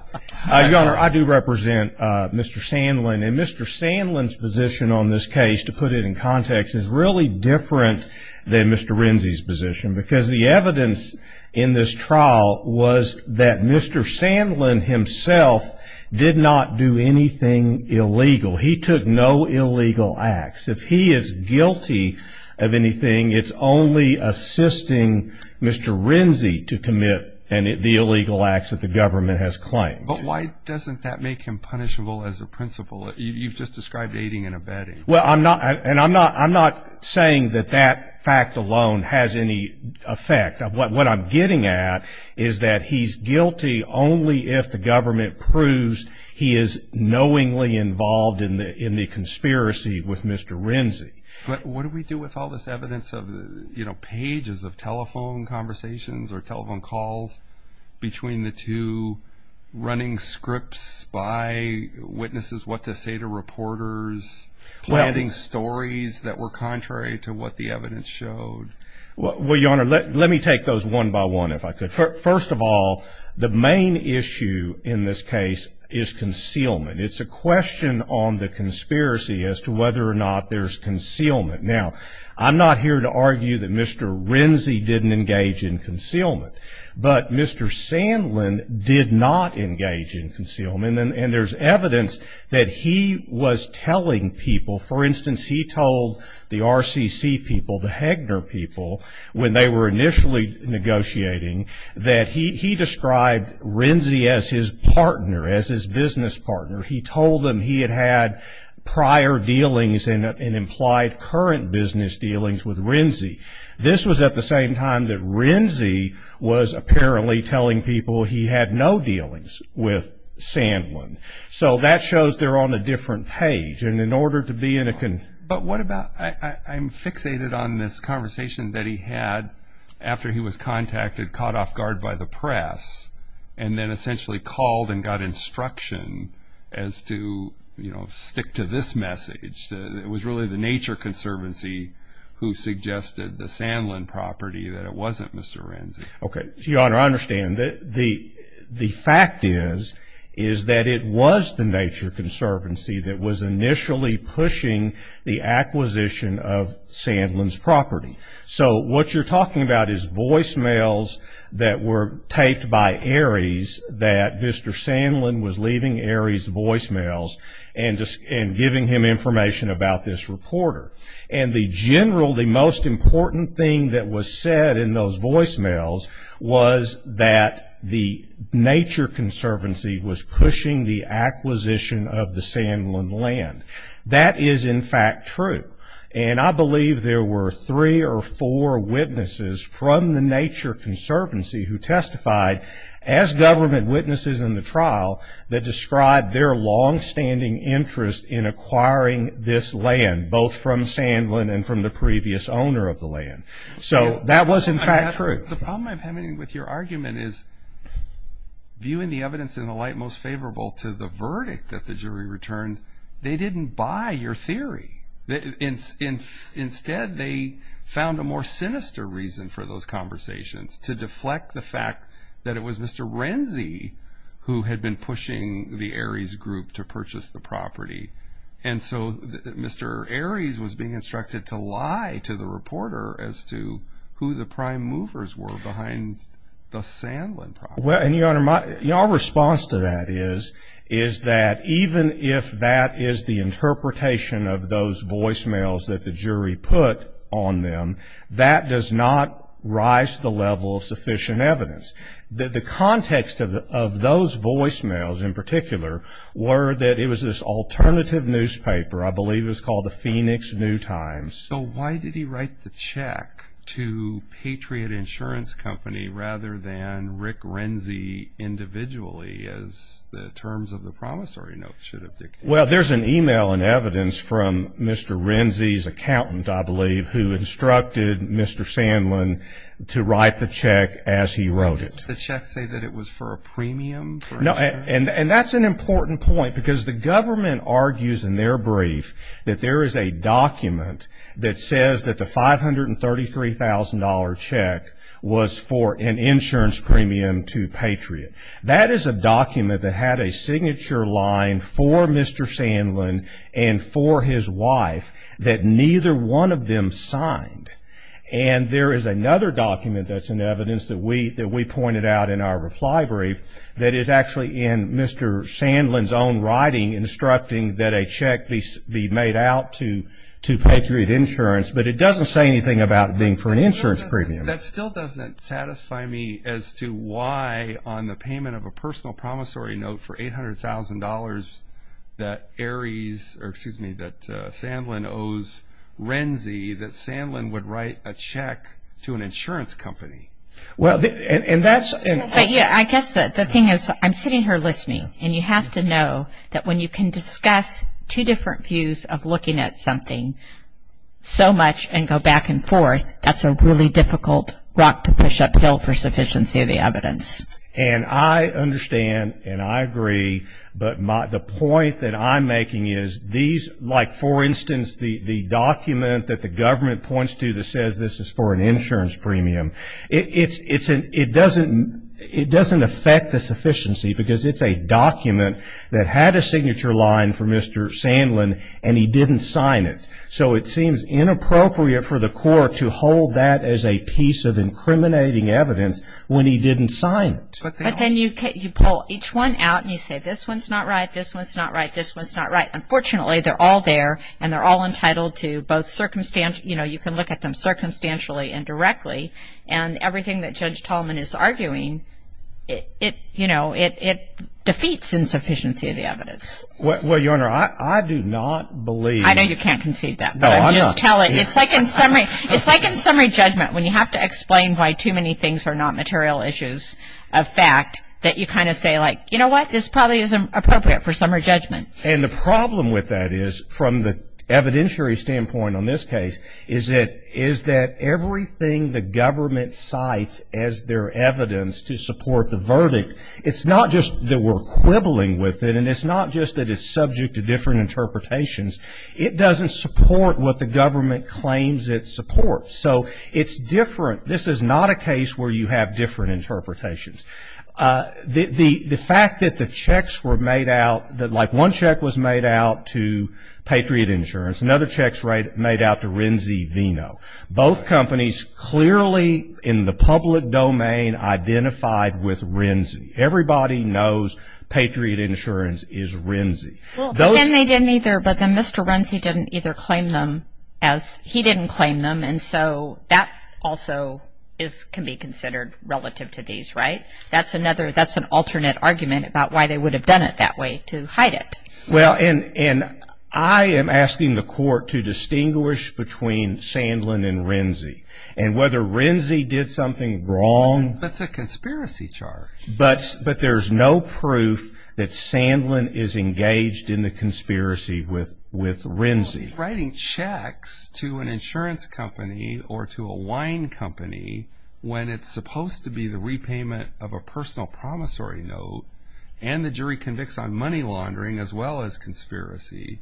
Honor, I do represent Mr. Sandlin. And Mr. Sandlin's position on this case, to put it in context, is really different than Mr. Renzi's position. Because the evidence in this trial was that Mr. Sandlin himself did not do anything illegal. He took no illegal acts. If he is guilty of anything, it's only assisting Mr. Renzi to commit the illegal acts that the government has claimed. But why doesn't that make him punishable as a principle? You've just described aiding and abetting. Well, I'm not saying that that fact alone has any effect. What I'm getting at is that he's guilty only if the government proves he is knowingly involved in the conspiracy with Mr. Renzi. But what do we do with all this evidence of, you know, pages of telephone conversations or telephone calls between the two, running scripts by witnesses, what to say to reporters? Planning stories that were contrary to what the evidence showed? Well, Your Honor, let me take those one by one, if I could. First of all, the main issue in this case is concealment. It's a question on the conspiracy as to whether or not there's concealment. Now, I'm not here to argue that Mr. Renzi didn't engage in concealment. But Mr. Sandlin did not engage in concealment. And there's evidence that he was telling people. For instance, he told the RCC people, the Hegner people, when they were initially negotiating, that he described Renzi as his partner, as his business partner. He told them he had had prior dealings and implied current business dealings with Renzi. This was at the same time that Renzi was apparently telling people he had no dealings with Sandlin. So, that shows they're on a different page. And in order to be in a con... But what about, I'm fixated on this conversation that he had after he was contacted, caught off guard by the press. And then essentially called and got instruction as to, you know, stick to this message. It was really the Nature Conservancy who suggested the Sandlin property that it wasn't Mr. Renzi. Okay. Your Honor, I understand that the fact is, is that it was the Nature Conservancy that was initially pushing the acquisition of Sandlin's property. So, what you're talking about is voicemails that were taped by Ares that Mr. Sandlin was leaving Ares voicemails and giving him information about this reporter. And the general, the most important thing that was said in those voicemails was that the Nature Conservancy was pushing the acquisition of the Sandlin land. That is, in fact, true. And I believe there were three or four witnesses from the Nature Conservancy who testified as government witnesses in the trial that described their longstanding interest in acquiring this land, both from Sandlin and from the previous owner of the land. So, that was, in fact, true. The problem I'm having with your argument is, viewing the evidence in the light most favorable to the verdict that the jury returned, they didn't buy your theory. Instead, they found a more sinister reason for those conversations to deflect the fact that it was Mr. Renzi who had been pushing the Ares group to purchase the property. And so, Mr. Ares was being instructed to lie to the reporter as to who the prime movers were behind the Sandlin property. Well, and your Honor, my response to that is, is that even if that is the interpretation of those voicemails that the jury put on them, that does not rise to the level of sufficient evidence. The context of those voicemails, in particular, were that it was this alternative newspaper. I believe it was called the Phoenix New Times. So, why did he write the check to Patriot Insurance Company rather than Rick Renzi individually as the terms of the promissory note should have dictated? Well, there's an email in evidence from Mr. Renzi's accountant, I believe, who instructed Mr. Sandlin to write the check as he wrote it. Did the check say that it was for a premium? No, and that's an important point because the government argues in their brief that there is a document that says that the $533,000 check was for an insurance premium to Patriot. That is a document that had a signature line for Mr. Sandlin and for his wife that neither one of them signed. And there is another document that's in evidence that we pointed out in our reply brief that is actually in Mr. Sandlin's own writing instructing that a check be made out to Patriot Insurance. But it doesn't say anything about it being for an insurance premium. That still doesn't satisfy me as to why on the payment of a personal promissory note for $800,000 that Aries, or excuse me, that Sandlin owes Renzi that Sandlin would write a check to an insurance company. Well, and that's... Yeah, I guess the thing is I'm sitting here listening, and you have to know that when you can discuss two different views of looking at something so much and go back and forth, that's a really difficult rock to push uphill for sufficiency of the evidence. And I understand and I agree, but the point that I'm making is these, like, for instance, the document that the government points to that says this is for an insurance premium, it doesn't affect the sufficiency because it's a document that had a signature line for Mr. Sandlin and he didn't sign it. So it seems inappropriate for the court to hold that as a piece of incriminating evidence when he didn't sign it. But then you pull each one out and you say this one's not right, this one's not right, this one's not right. Unfortunately, they're all there and they're all entitled to both circumstances, you know, you can look at them circumstantially and directly, and everything that Judge Tallman is arguing, it, you know, it defeats insufficiency of the evidence. Well, Your Honor, I do not believe... I know you can't concede that. No, I'm not. Tell it. It's like in summary judgment when you have to explain why too many things are not material issues of fact, that you kind of say, like, you know what, this probably isn't appropriate for summary judgment. And the problem with that is from the evidentiary standpoint on this case is that everything the government cites as their evidence to support the verdict, it's not just that we're quibbling with it and it's not just that it's subject to different interpretations. It doesn't support what the government claims it supports. So it's different. This is not a case where you have different interpretations. The fact that the checks were made out, that like one check was made out to Patriot Insurance, another check was made out to Renzi Vino. Both companies clearly in the public domain identified with Renzi. Everybody knows Patriot Insurance is Renzi. And they didn't either, but then Mr. Renzi didn't either claim them as he didn't claim them, and so that also can be considered relative to these, right? That's an alternate argument about why they would have done it that way to hide it. Well, and I am asking the court to distinguish between Sandlin and Renzi. And whether Renzi did something wrong... But it's a conspiracy charge. But there's no proof that Sandlin is engaged in the conspiracy with Renzi. Writing checks to an insurance company or to a wine company when it's supposed to be the repayment of a personal promissory note and the jury convicts on money laundering as well as conspiracy,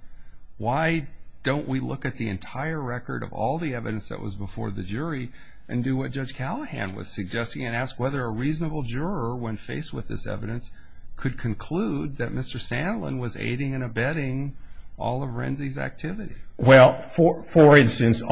why don't we look at the entire record of all the evidence that was before the jury and do what Judge Callahan was suggesting and ask whether a reasonable juror when faced with this evidence could conclude that Mr. Sandlin was aiding and abetting all of Renzi's activities. Well, for instance,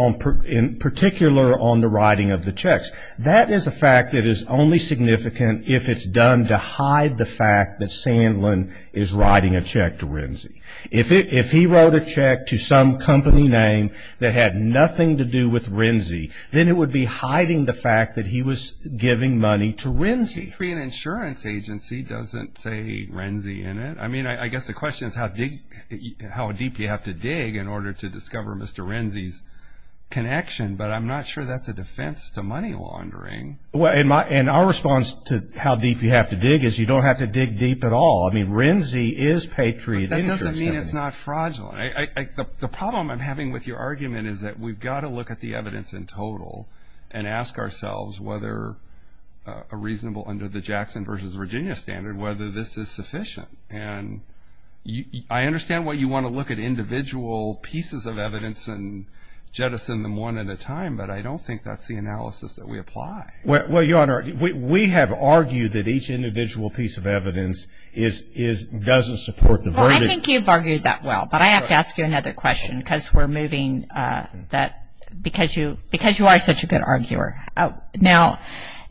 in particular on the writing of the checks, that is a fact that is only significant if it's done to hide the fact that Sandlin is writing a check to Renzi. If he wrote a check to some company name that had nothing to do with Renzi, then it would be hiding the fact that he was giving money to Renzi. Patriot Insurance Agency doesn't say Renzi in it. I mean, I guess the question is how deep you have to dig in order to discover Mr. Renzi's connection, but I'm not sure that's a defense to money laundering. Well, and our response to how deep you have to dig is you don't have to dig deep at all. I mean, Renzi is Patriot... But that doesn't mean it's not fraudulent. The problem I'm having with your argument is that we've got to look at the evidence in total and ask ourselves whether a reasonable under the Jackson versus Virginia standard, whether this is sufficient. And I understand why you want to look at individual pieces of evidence and jettison them one at a time, but I don't think that's the analysis that we apply. Well, Your Honor, we have argued that each individual piece of evidence doesn't support the verdict. I think you've argued that well, but I have to ask you another question because you are such a good arguer. Now,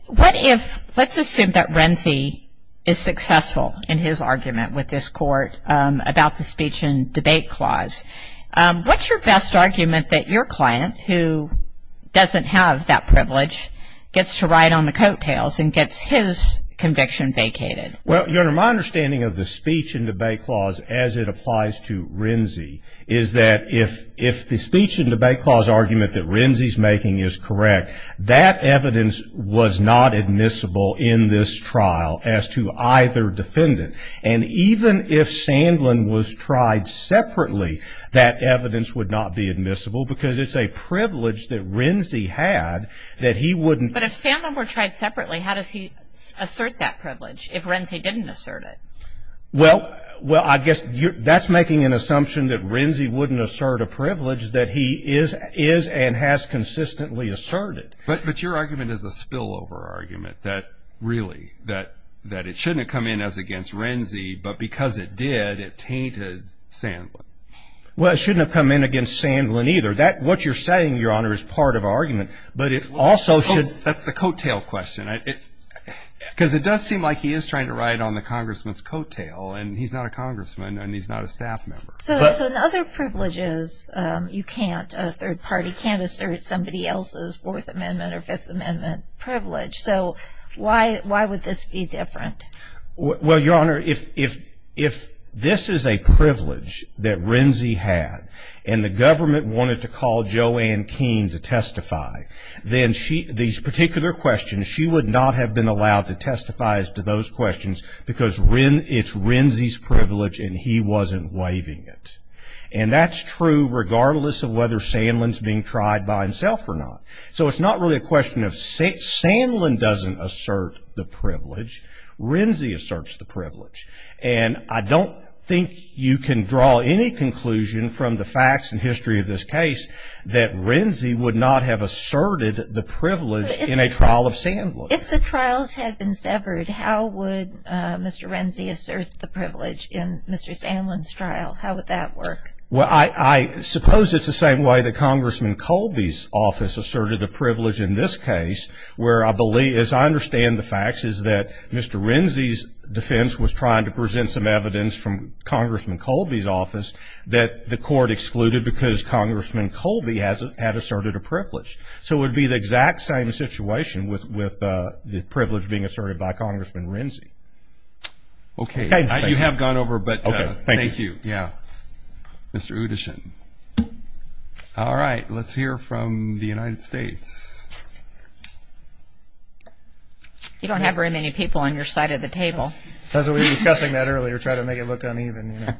let's assume that Renzi is successful in his argument with this court about the speech and debate clause. What's your best argument that your client, who doesn't have that privilege, gets to ride on the coattails and gets his conviction vacated? Well, Your Honor, my understanding of the speech and debate clause, as it applies to Renzi, is that if the speech and debate clause argument that Renzi's making is correct, that evidence was not admissible in this trial as to either defendant. And even if Sandlin was tried separately, that evidence would not be admissible because it's a privilege that Renzi had that he wouldn't... But if Sandlin were tried separately, how does he assert that privilege if Renzi didn't assert it? Well, I guess that's making an assumption that Renzi wouldn't assert a privilege that he is and has consistently asserted. But your argument is a spillover argument that really, that it shouldn't have come in as against Renzi, but because it did, it tainted Sandlin. Well, it shouldn't have come in against Sandlin either. What you're saying, Your Honor, is part of our argument. That's the coattail question. Because it does seem like he is trying to ride on the congressman's coattail, and he's not a congressman, and he's not a staff member. So in other privileges, you can't, a third party can't assert somebody else's Fourth Amendment or Fifth Amendment privilege. So why would this be different? Well, Your Honor, if this is a privilege that Renzi had, and the government wanted to call Joanne Keene to testify, then these particular questions, she would not have been allowed to testify as to those questions, because it's Renzi's privilege, and he wasn't waiving it. And that's true regardless of whether Sandlin's being tried by himself or not. So it's not really a question of Sandlin doesn't assert the privilege. Renzi asserts the privilege. And I don't think you can draw any conclusion from the facts and history of this case that Renzi would not have asserted the privilege in a trial of Sandlin. If the trials had been severed, how would Mr. Renzi assert the privilege in Mr. Sandlin's trial? How would that work? Well, I suppose it's the same way that Congressman Colby's office asserted the privilege in this case, where I believe, as I understand the facts, is that Mr. Renzi's defense was trying to present some evidence from Congressman Colby's office that the court excluded because Congressman Colby had asserted a privilege. So it would be the exact same situation with the privilege being asserted by Congressman Renzi. Okay. Thank you. You have gone over, but thank you. Yeah. Mr. Udishin. All right. Let's hear from the United States. You don't have very many people on your side of the table. As we were discussing that earlier, trying to make it look uneven.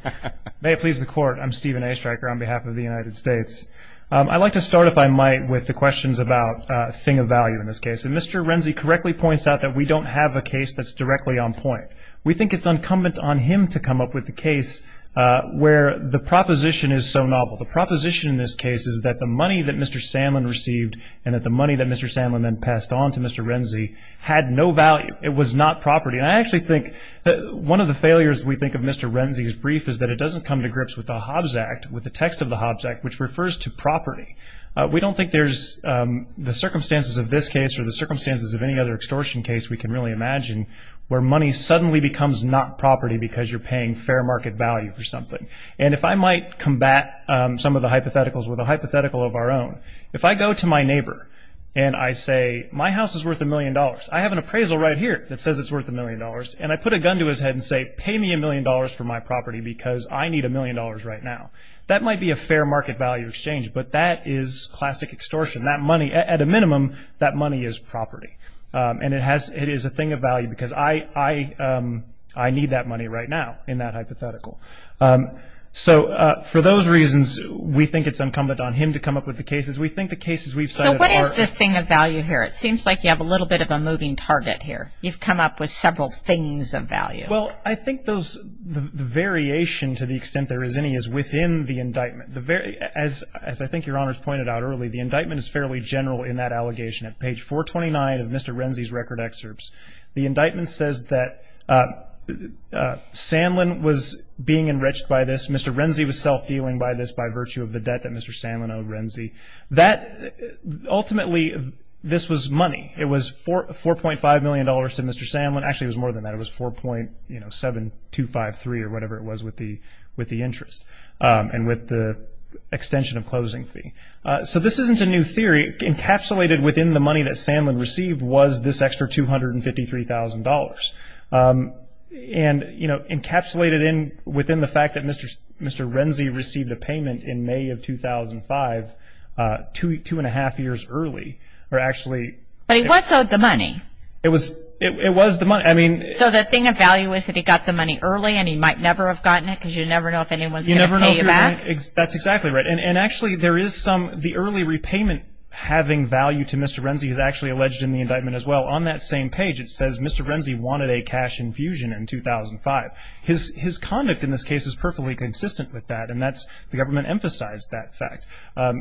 May it please the Court, I'm Stephen A. Stryker on behalf of the United States. I'd like to start, if I might, with the questions about a thing of value in this case. And Mr. Renzi correctly points out that we don't have a case that's directly on point. We think it's incumbent on him to come up with a case where the proposition is so novel. The proposition in this case is that the money that Mr. Sandlin received and that the money that Mr. Sandlin then passed on to Mr. Renzi had no value. It was not property. And I actually think that one of the failures, we think, of Mr. Renzi's brief is that it doesn't come to grips with the Hobbs Act, with the text of the Hobbs Act, which refers to property. We don't think there's the circumstances of this case or the circumstances of any other extortion case we can really imagine where money suddenly becomes not property because you're paying fair market value for something. And if I might combat some of the hypotheticals with a hypothetical of our own, if I go to my neighbor and I say, my house is worth a million dollars. I have an appraisal right here that says it's worth a million dollars. And I put a gun to his head and say, pay me a million dollars for my property because I need a million dollars right now. That might be a fair market value exchange, but that is classic extortion. That money, at a minimum, that money is property. And it is a thing of value because I need that money right now in that hypothetical. So for those reasons, we think it's incumbent on him to come up with the cases. We think the cases we've cited are- So what is this thing of value here? It seems like you have a little bit of a moving target here. You've come up with several things of value. Well, I think the variation to the extent there is any is within the indictment. As I think Your Honors pointed out earlier, the indictment is fairly general in that allegation at page 429 of Mr. Renzi's record excerpts. The indictment says that Sanlin was being enriched by this. Mr. Renzi was self-healing by this by virtue of the debt that Mr. Sanlin owed Renzi. Ultimately, this was money. It was $4.5 million to Mr. Sanlin. Actually, it was more than that. It was $4.7253 or whatever it was with the interest and with the extension of closing fee. So this isn't a new theory. Encapsulated within the money that Sanlin received was this extra $253,000. And, you know, encapsulated within the fact that Mr. Renzi received a payment in May of 2005, two and a half years early, or actually- But he was owed the money. It was the money. So the thing of value is that he got the money early and he might never have gotten it because you never know if anyone's going to pay him back? That's exactly right. And, actually, there is some-the early repayment having value to Mr. Renzi is actually alleged in the indictment as well. On that same page, it says Mr. Renzi wanted a cash infusion in 2005. His conduct in this case is perfectly consistent with that, and that's-the government emphasized that fact.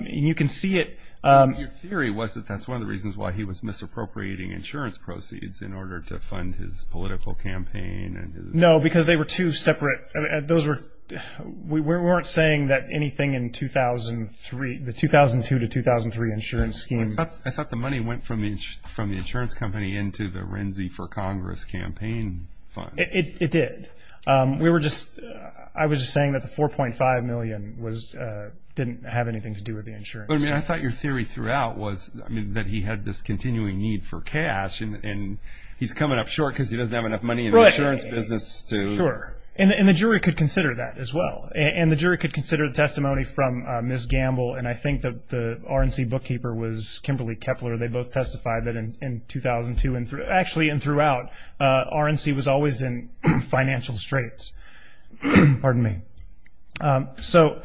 You can see it- Your theory was that that's one of the reasons why he was misappropriating insurance proceeds in order to fund his political campaign. No, because they were two separate- We weren't saying that anything in 2003-the 2002 to 2003 insurance scheme- I thought the money went from the insurance company into the Renzi for Congress campaign fund. It did. We were just-I was just saying that the $4.5 million didn't have anything to do with the insurance. But, I mean, I thought your theory throughout was that he had this continuing need for cash, and he's coming up short because he doesn't have enough money in the insurance business to- And the jury could consider the testimony from Ms. Gamble, and I think that the RENZI bookkeeper was Kimberly Kepler. They both testified that in 2002 and-actually, and throughout, RENZI was always in financial straits. Pardon me. So,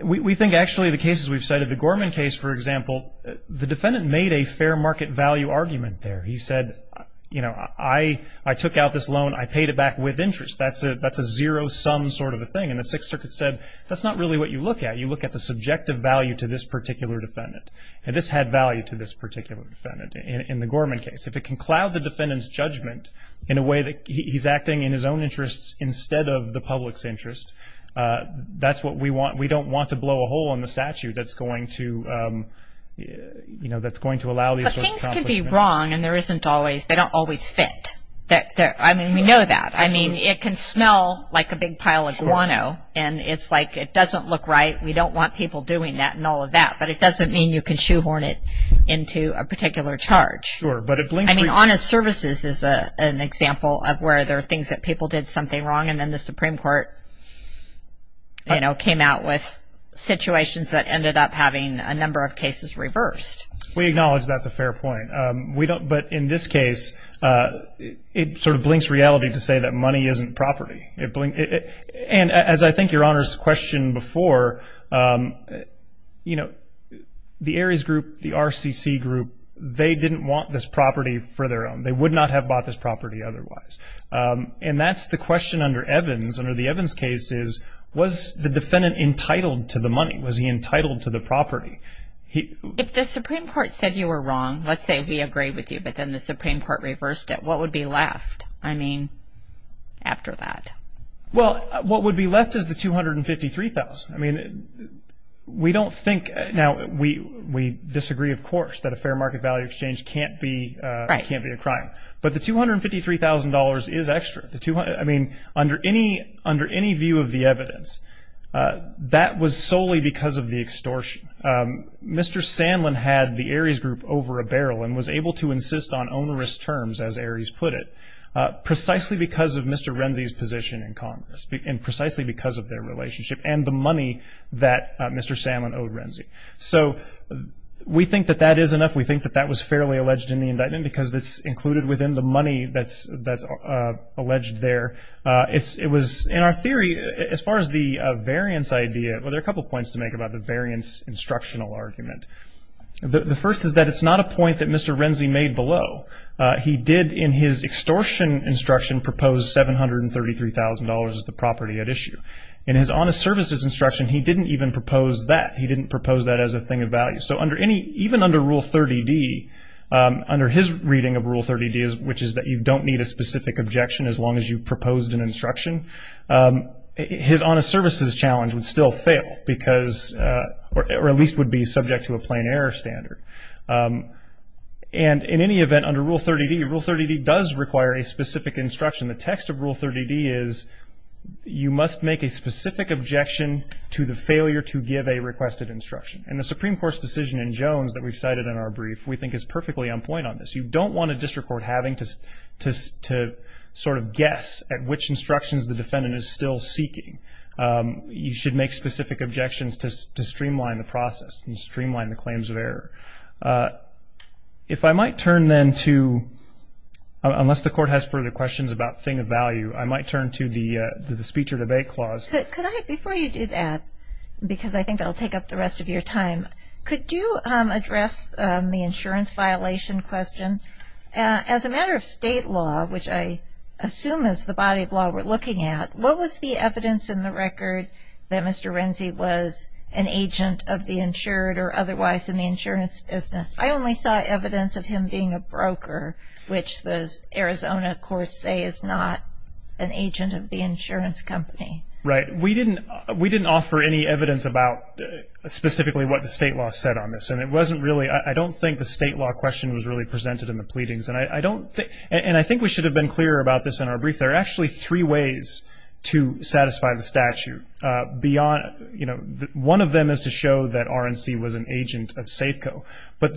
we think actually the cases we've cited, the Gorman case, for example, the defendant made a fair market value argument there. He said, you know, I took out this loan. I paid it back with interest. That's a zero-sum sort of a thing. And the Sixth Circuit said, that's not really what you look at. You look at the subjective value to this particular defendant. And this had value to this particular defendant in the Gorman case. If it can cloud the defendant's judgment in a way that he's acting in his own interests instead of the public's interest, that's what we want. We don't want to blow a hole in the statute that's going to, you know, that's going to allow these sorts of accomplishments. But things could be wrong, and there isn't always-they don't always fit. I mean, we know that. I mean, it can smell like a big pile of guano, and it's like it doesn't look right. We don't want people doing that and all of that. But it doesn't mean you can shoehorn it into a particular charge. I mean, honest services is an example of where there are things that people did something wrong, and then the Supreme Court, you know, came out with situations that ended up having a number of cases reversed. We acknowledge that's a fair point. But in this case, it sort of blinks reality to say that money isn't property. And as I think Your Honor's questioned before, you know, the Ares group, the RCC group, they didn't want this property for their own. They would not have bought this property otherwise. And that's the question under Evans. Under the Evans case is, was the defendant entitled to the money? Was he entitled to the property? If the Supreme Court said you were wrong, let's say he agreed with you, but then the Supreme Court reversed it, what would be left, I mean, after that? Well, what would be left is the $253,000. I mean, we don't think now we disagree, of course, that a fair market value exchange can't be a crime. But the $253,000 is extra. I mean, under any view of the evidence, that was solely because of the extortion. Mr. Sandlin had the Ares group over a barrel and was able to insist on onerous terms, as Ares put it, precisely because of Mr. Renzi's position in Congress and precisely because of their relationship and the money that Mr. Sandlin owed Renzi. So we think that that is enough. We think that that was fairly alleged in the indictment because it's included within the money that's alleged there. It was, in our theory, as far as the variance idea, well, there are a couple points to make about the variance instructional argument. The first is that it's not a point that Mr. Renzi made below. He did, in his extortion instruction, propose $733,000 as the property at issue. In his honest services instruction, he didn't even propose that. He didn't propose that as a thing of value. So under any, even under Rule 30D, under his reading of Rule 30D, which is that you don't need a specific objection as long as you proposed an instruction, his honest services challenge would still fail because, or at least would be subject to a plain error standard. And in any event, under Rule 30D, Rule 30D does require a specific instruction. The text of Rule 30D is you must make a specific objection to the failure to give a requested instruction. And the Supreme Court's decision in Jones that we cited in our brief, we think, is perfectly on point on this. You don't want a district court having to sort of guess at which instructions the defendant is still seeking. You should make specific objections to streamline the process and streamline the claims of error. If I might turn then to, unless the Court has further questions about thing of value, I might turn to the speech or debate clause. Before you do that, because I think I'll take up the rest of your time, could you address the insurance violation question? As a matter of state law, which I assume is the body of law we're looking at, what was the evidence in the record that Mr. Renzi was an agent of the insured or otherwise in the insurance business? I only saw evidence of him being a broker, which the Arizona courts say is not an agent of the insurance company. Right. We didn't offer any evidence about specifically what the state law said on this. And it wasn't really, I don't think the state law question was really presented in the pleadings. And I think we should have been clearer about this in our brief. There are actually three ways to satisfy the statute. One of them is to show that Renzi was an agent of Safeco. But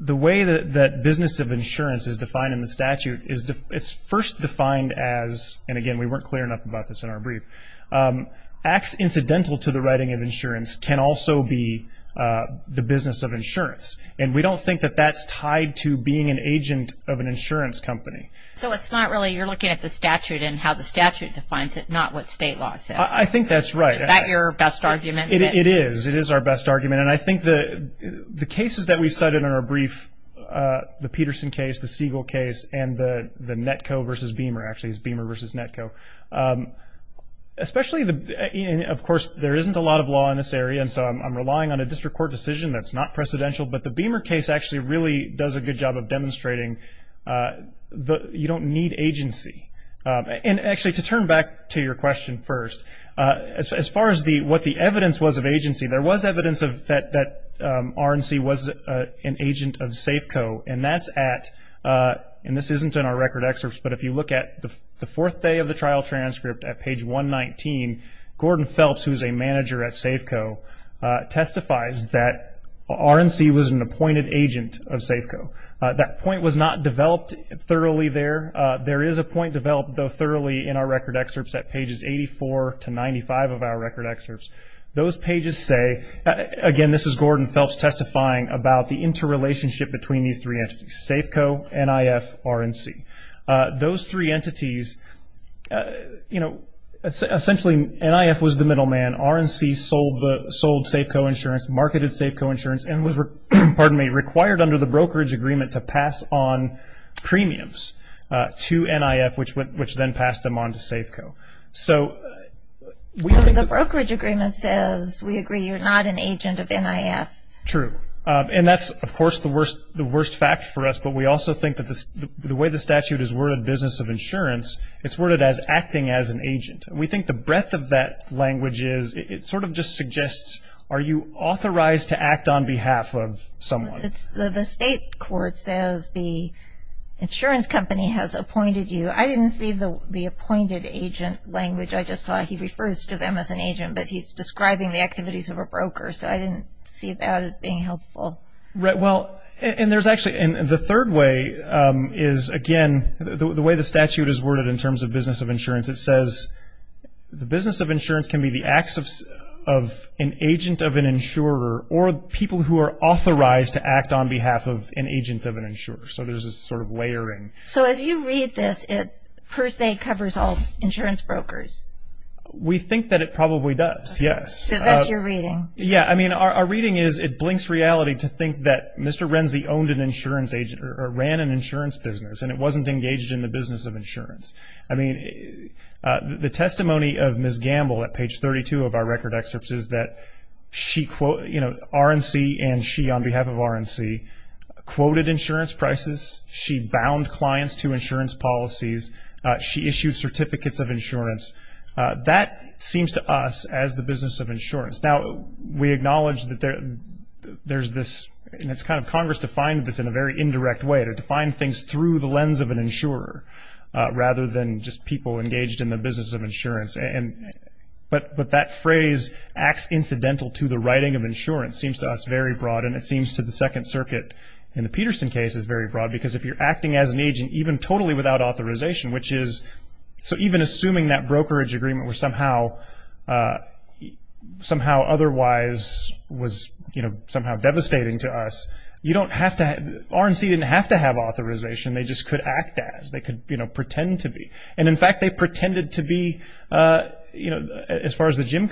the way that business of insurance is defined in the statute, it's first defined as, and again, we weren't clear enough about this in our brief, acts incidental to the writing of insurance can also be the business of insurance. And we don't think that that's tied to being an agent of an insurance company. So it's not really, you're looking at the statute and how the statute defines it, not what state law says. I think that's right. Is that your best argument? It is. It is our best argument. And I think the cases that we cited in our brief, the Peterson case, the Siegel case, and the Netco versus Beamer, actually it's Beamer versus Netco. Especially, of course, there isn't a lot of law in this area, and so I'm relying on a district court decision that's not precedential. But the Beamer case actually really does a good job of demonstrating you don't need agency. And actually, to turn back to your question first, as far as what the evidence was of agency, there was evidence that Renzi was an agent of Safeco, and that's at, and this isn't in our record excerpts, but if you look at the fourth day of the trial transcript at page 119, Gordon Phelps, who is a manager at Safeco, testifies that Renzi was an appointed agent of Safeco. That point was not developed thoroughly there. There is a point developed though thoroughly in our record excerpts at pages 84 to 95 of our record excerpts. Those pages say, again, this is Gordon Phelps testifying about the interrelationship between these three entities, Safeco, NIF, Renzi. Those three entities, you know, essentially NIF was the middleman. RNC sold Safeco insurance, marketed Safeco insurance, and was, pardon me, required under the brokerage agreement to pass on premiums to NIF, which then passed them on to Safeco. So we. The brokerage agreement says we agree you're not an agent of NIF. True. And that's, of course, the worst fact for us, but we also think that the way the statute is worded business of insurance, it's worded as acting as an agent. We think the breadth of that language is it sort of just suggests are you authorized to act on behalf of someone? The state court says the insurance company has appointed you. I didn't see the appointed agent language. I just saw he refers to them as an agent, but he's describing the activities of a broker, so I didn't see that as being helpful. Well, and there's actually, and the third way is, again, the way the statute is worded in terms of business of insurance, it says the business of insurance can be the acts of an agent of an insurer or people who are authorized to act on behalf of an agent of an insurer. So there's this sort of layering. So if you read this, it per se covers all insurance brokers. We think that it probably does, yes. So that's your reading. Yeah, I mean, our reading is it blinks reality to think that Mr. Renzi owned an insurance agent or ran an insurance business and it wasn't engaged in the business of insurance. I mean, the testimony of Ms. Gamble at page 32 of our record excerpts is that she, you know, RNC and she on behalf of RNC quoted insurance prices. She bound clients to insurance policies. She issued certificates of insurance. That seems to us as the business of insurance. Now, we acknowledge that there's this, and it's kind of Congress defined this in a very indirect way, to define things through the lens of an insurer rather than just people engaged in the business of insurance. But that phrase acts incidental to the writing of insurance seems to us very broad, and it seems to the Second Circuit in the Peterson case is very broad because if you're acting as an agent, even totally without authorization, which is, so even assuming that brokerage agreement was somehow otherwise was, you know, somehow devastating to us, you don't have to, RNC didn't have to have authorization. They just could act as. They could, you know, pretend to be. And, in fact, they pretended to be, you know, as far as the gym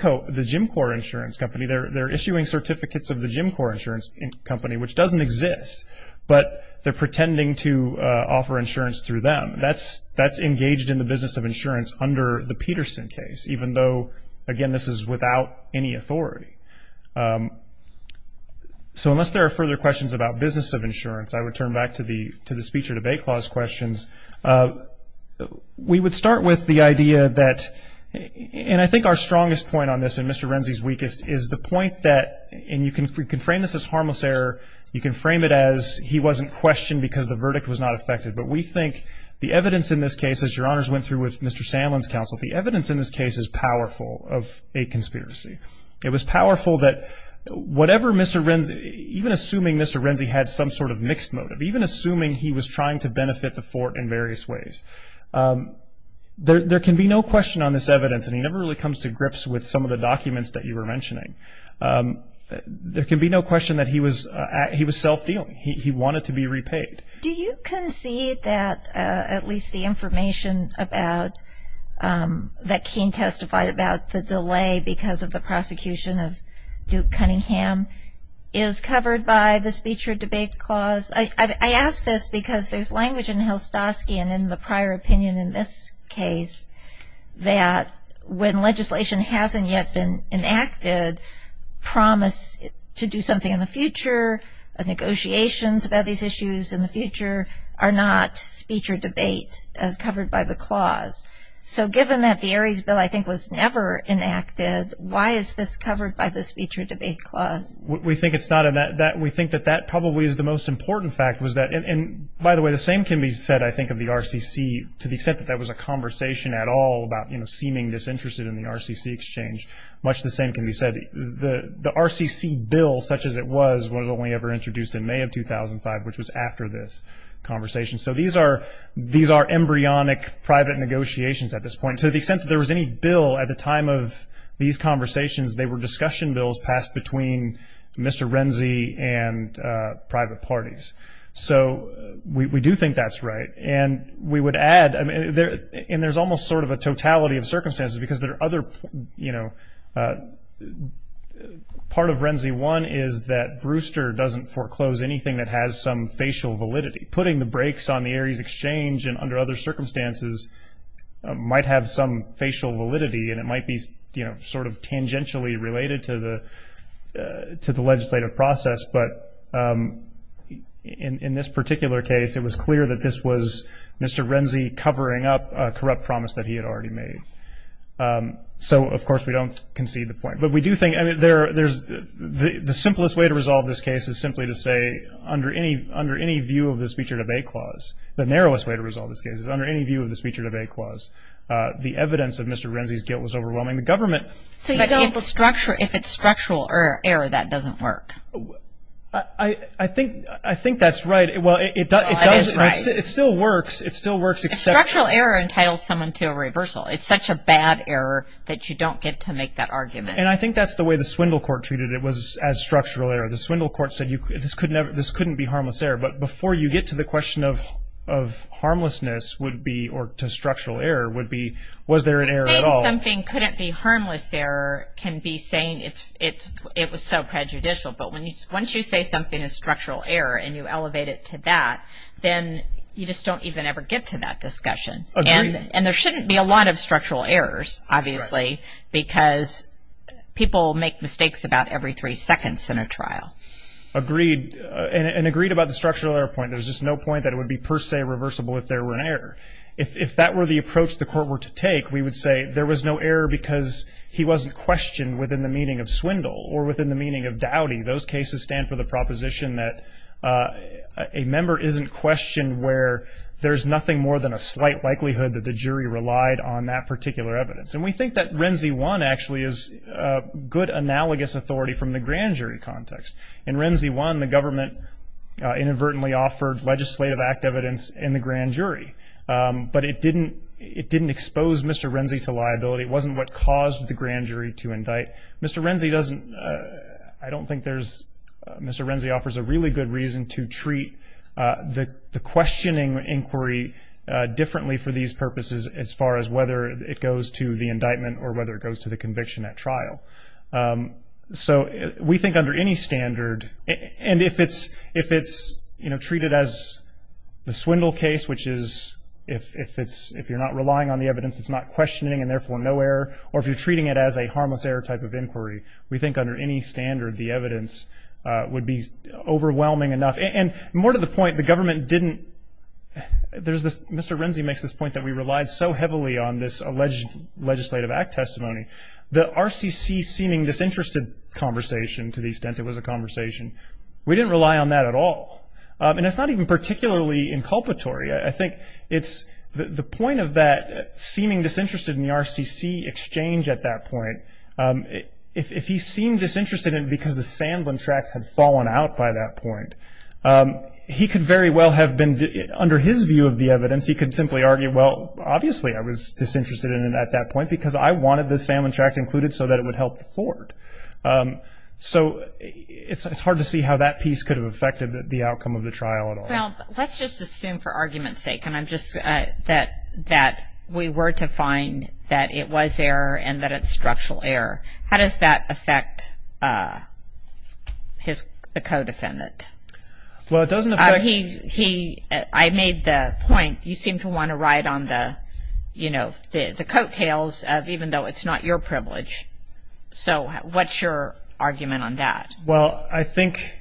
core insurance company, they're issuing certificates of the gym core insurance company, which doesn't exist, but they're pretending to offer insurance through them. That's engaged in the business of insurance under the Peterson case, even though, again, this is without any authority. So unless there are further questions about business of insurance, I would turn back to the speech or debate clause questions. We would start with the idea that, and I think our strongest point on this, and Mr. Renzi's weakest, is the point that, and you can frame this as harmless error. You can frame it as he wasn't questioned because the verdict was not effective. But we think the evidence in this case, as your honors went through with Mr. Sandlin's counsel, the evidence in this case is powerful of a conspiracy. It was powerful that whatever Mr. Renzi, even assuming Mr. Renzi had some sort of mixed motive, even assuming he was trying to benefit the fort in various ways, there can be no question on this evidence, and he never really comes to grips with some of the documents that you were mentioning. There can be no question that he was self-dealing. He wanted to be repaid. Do you concede that at least the information that King testified about the delay because of the prosecution of Duke Cunningham is covered by the speech or debate clause? I ask this because there's language in Hilstoski and in the prior opinion in this case that when legislation hasn't yet been enacted, promise to do something in the future, negotiations about these issues in the future, are not speech or debate covered by the clause. So given that the Aries Bill, I think, was never enacted, why is this covered by the speech or debate clause? We think it's not. We think that that probably is the most important fact. By the way, the same can be said, I think, of the RCC. To the extent that there was a conversation at all about seeming disinterested in the RCC exchange, much the same can be said. The RCC bill, such as it was, was only ever introduced in May of 2005, which was after this conversation. So these are embryonic private negotiations at this point. To the extent that there was any bill at the time of these conversations, they were discussion bills passed between Mr. Renzi and private parties. So we do think that's right. And we would add, and there's almost sort of a totality of circumstances because there are other, you know, part of Renzi 1 is that Brewster doesn't foreclose anything that has some facial validity. Putting the brakes on the Aries exchange and under other circumstances might have some facial validity, and it might be, you know, sort of tangentially related to the legislative process. But in this particular case, it was clear that this was Mr. Renzi covering up a corrupt promise that he had already made. So, of course, we don't concede the point. But we do think there's the simplest way to resolve this case is simply to say under any view of this feature debate clause, the narrowest way to resolve this case is under any view of this feature debate clause, because the evidence of Mr. Renzi's guilt was overwhelming the government. But if it's structural error, that doesn't work. I think that's right. Well, it does. It still works. It still works. Structural error entitles someone to a reversal. It's such a bad error that you don't get to make that argument. And I think that's the way the Swindle Court treated it was as structural error. The Swindle Court said this couldn't be harmless error. But before you get to the question of harmlessness would be or to structural error would be was there an error at all. Saying something couldn't be harmless error can be saying it was so prejudicial. But once you say something is structural error and you elevate it to that, then you just don't even ever get to that discussion. And there shouldn't be a lot of structural errors, obviously, because people make mistakes about every three seconds in a trial. And agreed about the structural error point, there's just no point that it would be per se reversible if there were an error. If that were the approach the court were to take, we would say there was no error because he wasn't questioned within the meaning of swindle or within the meaning of doubting. Those cases stand for the proposition that a member isn't questioned where there's nothing more than a slight likelihood that the jury relied on that particular evidence. And we think that Renzi 1 actually is a good analogous authority from the grand jury context. In Renzi 1, the government inadvertently offered legislative act evidence in the grand jury. But it didn't expose Mr. Renzi to liability. It wasn't what caused the grand jury to indict. Mr. Renzi offers a really good reason to treat the questioning inquiry differently for these purposes as far as whether it goes to the indictment or whether it goes to the conviction at trial. So we think under any standard, and if it's, you know, treated as the swindle case, which is if you're not relying on the evidence, it's not questioning and therefore no error, or if you're treating it as a harmless error type of inquiry, we think under any standard the evidence would be overwhelming enough. And more to the point, the government didn't, Mr. Renzi makes this point that we relied so heavily on this alleged legislative act testimony. The RCC seeming disinterested conversation to the extent it was a conversation, we didn't rely on that at all. And it's not even particularly inculpatory. I think it's the point of that seeming disinterested in the RCC exchange at that point, if he seemed disinterested in it because the sand on tracks had fallen out by that point, he could very well have been, under his view of the evidence, he could simply argue, well, obviously I was disinterested in it at that point because I wanted the sand on tracks included so that it would help the court. So it's hard to see how that piece could have affected the outcome of the trial at all. Well, let's just assume for argument's sake, and I'm just, that we were to find that it was error and that it's structural error. How does that affect the co-defendant? He, I made the point, you seem to want to ride on the, you know, the coattails, even though it's not your privilege. So what's your argument on that? Well, I think,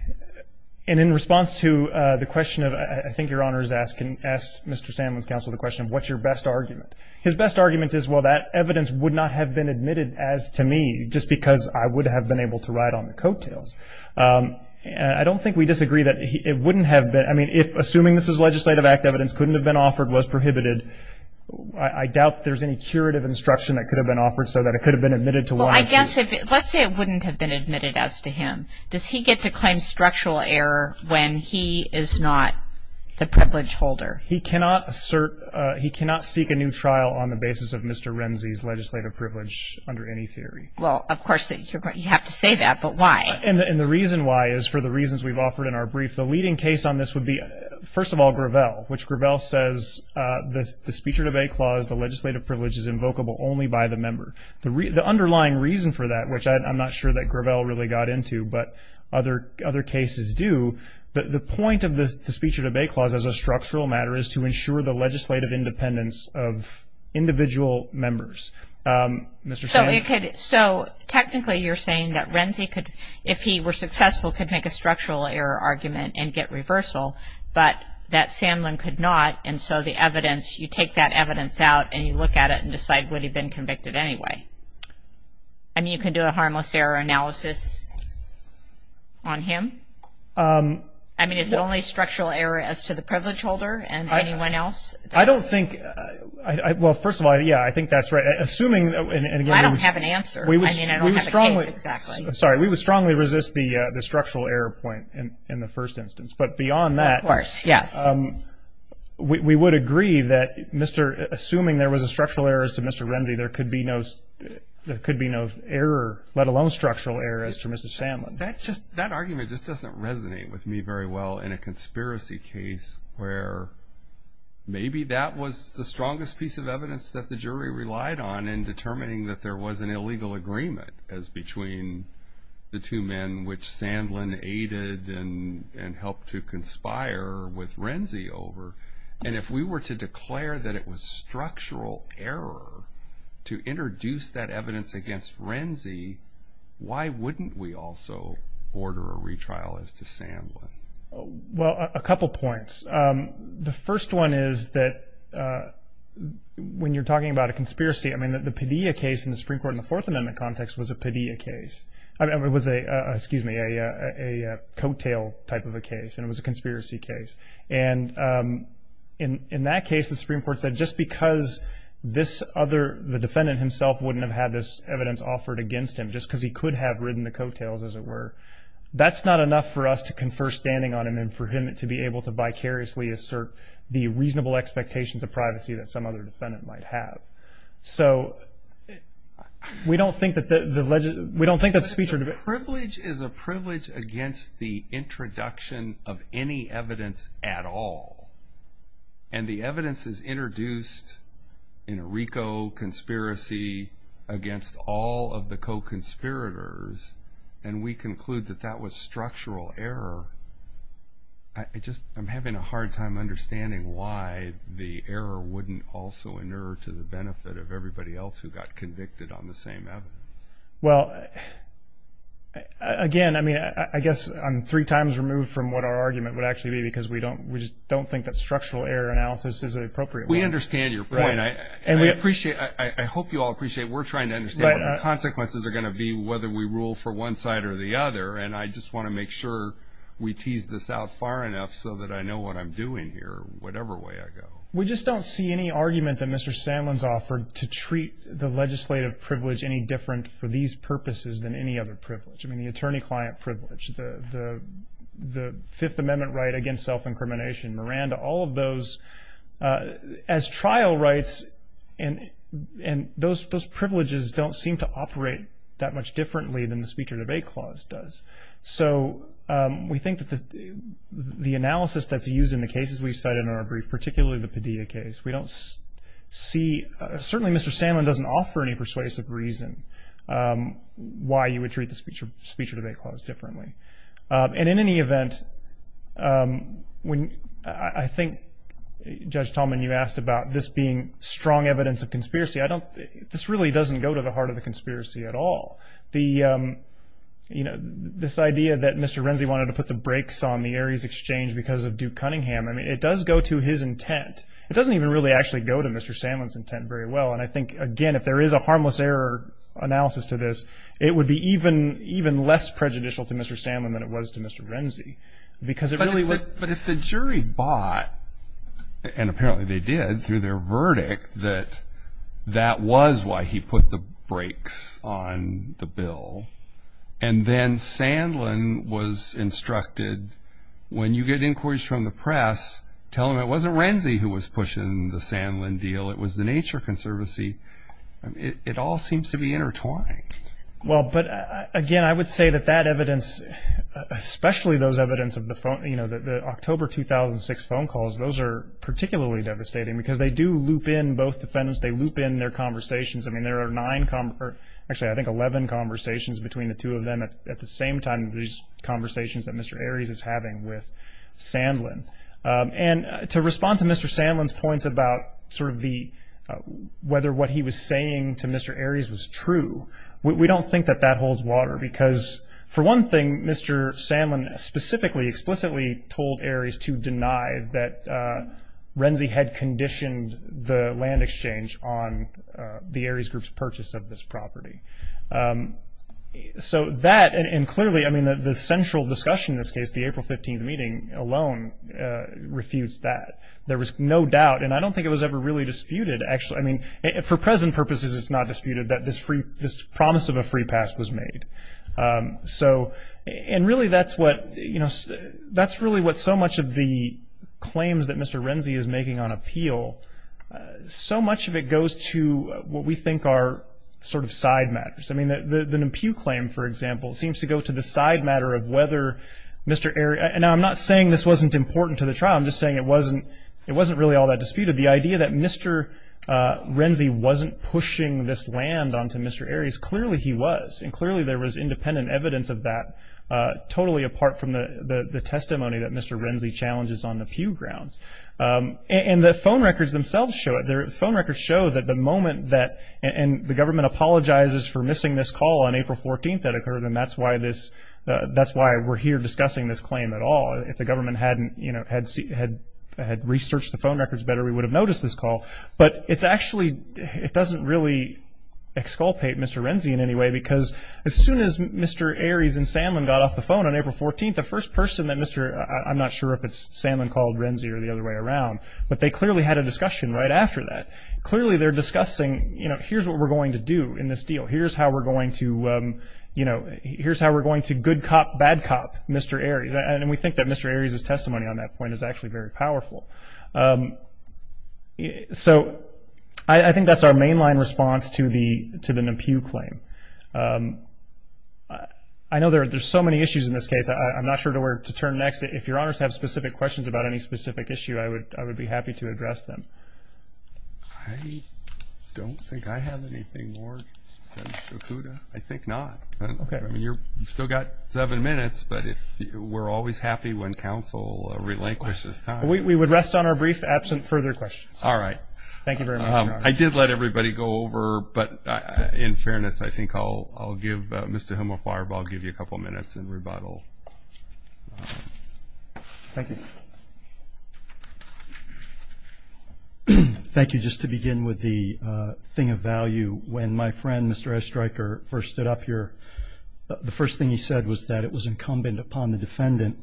and in response to the question of, I think Your Honor is asking, asked Mr. Sam with counsel the question, what's your best argument? His best argument is, well, that evidence would not have been admitted as to me just because I would have been able to ride on the coattails. I don't think we disagree that it wouldn't have been, I mean, if assuming this is legislative act evidence, couldn't have been offered, was prohibited, I doubt there's any curative instruction that could have been offered so that it could have been admitted to one. Well, I guess, let's say it wouldn't have been admitted as to him. Does he get to claim structural error when he is not the privilege holder? He cannot assert, he cannot seek a new trial on the basis of Mr. Renzi's legislative privilege under any theory. Well, of course you have to say that, but why? And the reason why is for the reasons we've offered in our brief. The leading case on this would be, first of all, Gravel, which Gravel says the Speech or Debate Clause, the legislative privilege is invocable only by the member. The underlying reason for that, which I'm not sure that Gravel really got into, but other cases do, the point of the Speech or Debate Clause as a structural matter is to ensure the legislative independence of individual members. Mr. Sandlin? So technically you're saying that Renzi could, if he were successful, could make a structural error argument and get reversal, but that Sandlin could not and so the evidence, you take that evidence out and you look at it and decide would he have been convicted anyway? And you can do a harmless error analysis on him? I mean, is the only structural error as to the privilege holder and anyone else? I don't think, well, first of all, yeah, I think that's right. I don't have an answer. I mean, I don't have a case exactly. I'm sorry. We would strongly resist the structural error point in the first instance. But beyond that, we would agree that assuming there was a structural error as to Mr. Renzi, there could be no error, let alone structural error, as to Mr. Sandlin. That argument just doesn't resonate with me very well in a conspiracy case where maybe that was the strongest piece of evidence that the jury relied on in determining that there was an illegal agreement as between the two men, which Sandlin aided and helped to conspire with Renzi over. And if we were to declare that it was structural error to introduce that evidence against Renzi, why wouldn't we also order a retrial as to Sandlin? Well, a couple points. The first one is that when you're talking about a conspiracy, I mean, the Padilla case in the Supreme Court in the Fourth Amendment context was a Padilla case. It was a, excuse me, a coattail type of a case, and it was a conspiracy case. And in that case, the Supreme Court said just because this other, the defendant himself, wouldn't have had this evidence offered against him just because he could have ridden the coattails, as it were, that's not enough for us to confer standing on him and for him to be able to vicariously assert the reasonable expectations of privacy that some other defendant might have. So we don't think that the, we don't think that's featured. Privilege is a privilege against the introduction of any evidence at all. And the evidence is introduced in a RICO conspiracy against all of the co-conspirators, and we conclude that that was structural error. I just, I'm having a hard time understanding why the error wouldn't also inure to the benefit of everybody else who got convicted on the same evidence. Well, again, I mean, I guess I'm three times removed from what our argument would actually be because we don't, we just don't think that structural error analysis is an appropriate thing. We understand your point. And we appreciate, I hope you all appreciate, we're trying to understand what the consequences are going to be whether we rule for one side or the other. And I just want to make sure we tease this out far enough so that I know what I'm doing here, whatever way I go. We just don't see any argument that Mr. Sandlin's offered to treat the legislative privilege any different for these purposes than any other privilege. I mean, the attorney-client privilege, the Fifth Amendment right against self-incrimination, Miranda, all of those, as trial rights, and those privileges don't seem to operate that much differently than the speech or debate clause does. So we think that the analysis that's used in the cases we studied in our brief, particularly the Padilla case, we don't see, certainly Mr. Sandlin doesn't offer any persuasive reason why you would treat the speech or debate clause differently. And in any event, I think, Judge Tallman, you asked about this being strong evidence of conspiracy. This really doesn't go to the heart of the conspiracy at all. This idea that Mr. Renzi wanted to put the brakes on the Aries Exchange because of Duke Cunningham, I mean, it does go to his intent. It doesn't even really actually go to Mr. Sandlin's intent very well. And I think, again, if there is a harmless error analysis to this, it would be even less prejudicial to Mr. Sandlin than it was to Mr. Renzi. But if the jury bought, and apparently they did through their verdict, that that was why he put the brakes on the bill, and then Sandlin was instructed, when you get inquiries from the press, tell them it wasn't Renzi who was pushing the Sandlin deal, it was the Nature Conservancy, it all seems to be intertwined. Well, but again, I would say that that evidence, especially those evidence of the October 2006 phone calls, those are particularly devastating because they do loop in both defendants, they loop in their conversations. I mean, there are nine, actually I think 11 conversations between the two of them at the same time as these conversations that Mr. Aries is having with Sandlin. And to respond to Mr. Sandlin's points about sort of the, whether what he was saying to Mr. Aries was true, we don't think that that holds water because, for one thing, Mr. Sandlin specifically, explicitly told Aries to deny that Renzi had conditioned the land exchange on the Aries Group's purchase of this property. So that, and clearly, I mean, the central discussion in this case, the April 15th meeting alone, refused that. There was no doubt, and I don't think it was ever really disputed, actually. I mean, for present purposes it's not disputed that this promise of a free pass was made. So, and really that's what, you know, that's really what so much of the claims that Mr. Renzi is making on appeal, so much of it goes to what we think are sort of side matters. I mean, the Pugh claim, for example, seems to go to the side matter of whether Mr. Aries, and I'm not saying this wasn't important to the trial, I'm just saying it wasn't really all that disputed. The idea that Mr. Renzi wasn't pushing this land onto Mr. Aries, clearly he was. And clearly there was independent evidence of that, totally apart from the testimony that Mr. Renzi challenges on the Pugh grounds. And the phone records themselves show it. The phone records show that the moment that, and the government apologizes for missing this call on April 14th that occurred, and that's why this, that's why we're here discussing this claim at all. If the government hadn't, you know, had researched the phone records better, we would have noticed this call. But it's actually, it doesn't really exculpate Mr. Renzi in any way, because as soon as Mr. Aries and Sanlin got off the phone on April 14th, the first person that Mr., I'm not sure if it's Sanlin called Renzi or the other way around, but they clearly had a discussion right after that. Clearly they're discussing, you know, here's what we're going to do in this deal. Here's how we're going to, you know, here's how we're going to good cop, bad cop Mr. Aries. And we think that Mr. Aries' testimony on that point is actually very powerful. So I think that's our mainline response to the Pugh claim. I know there's so many issues in this case. I'm not sure to where to turn next. If your honors have specific questions about any specific issue, I would be happy to address them. I don't think I have anything more. I think not. Okay. You've still got seven minutes, but we're always happy when counsel relinquishes time. We would rest on our brief absent further questions. All right. Thank you very much. I did let everybody go over, but in fairness, I think I'll give Mr. Hemelfarb, I'll give you a couple minutes in rebuttal. Thank you. Thank you. Just to begin with the thing of value, when my friend, Mr. Estreicher, first stood up here, the first thing he said was that it was incumbent upon the defendant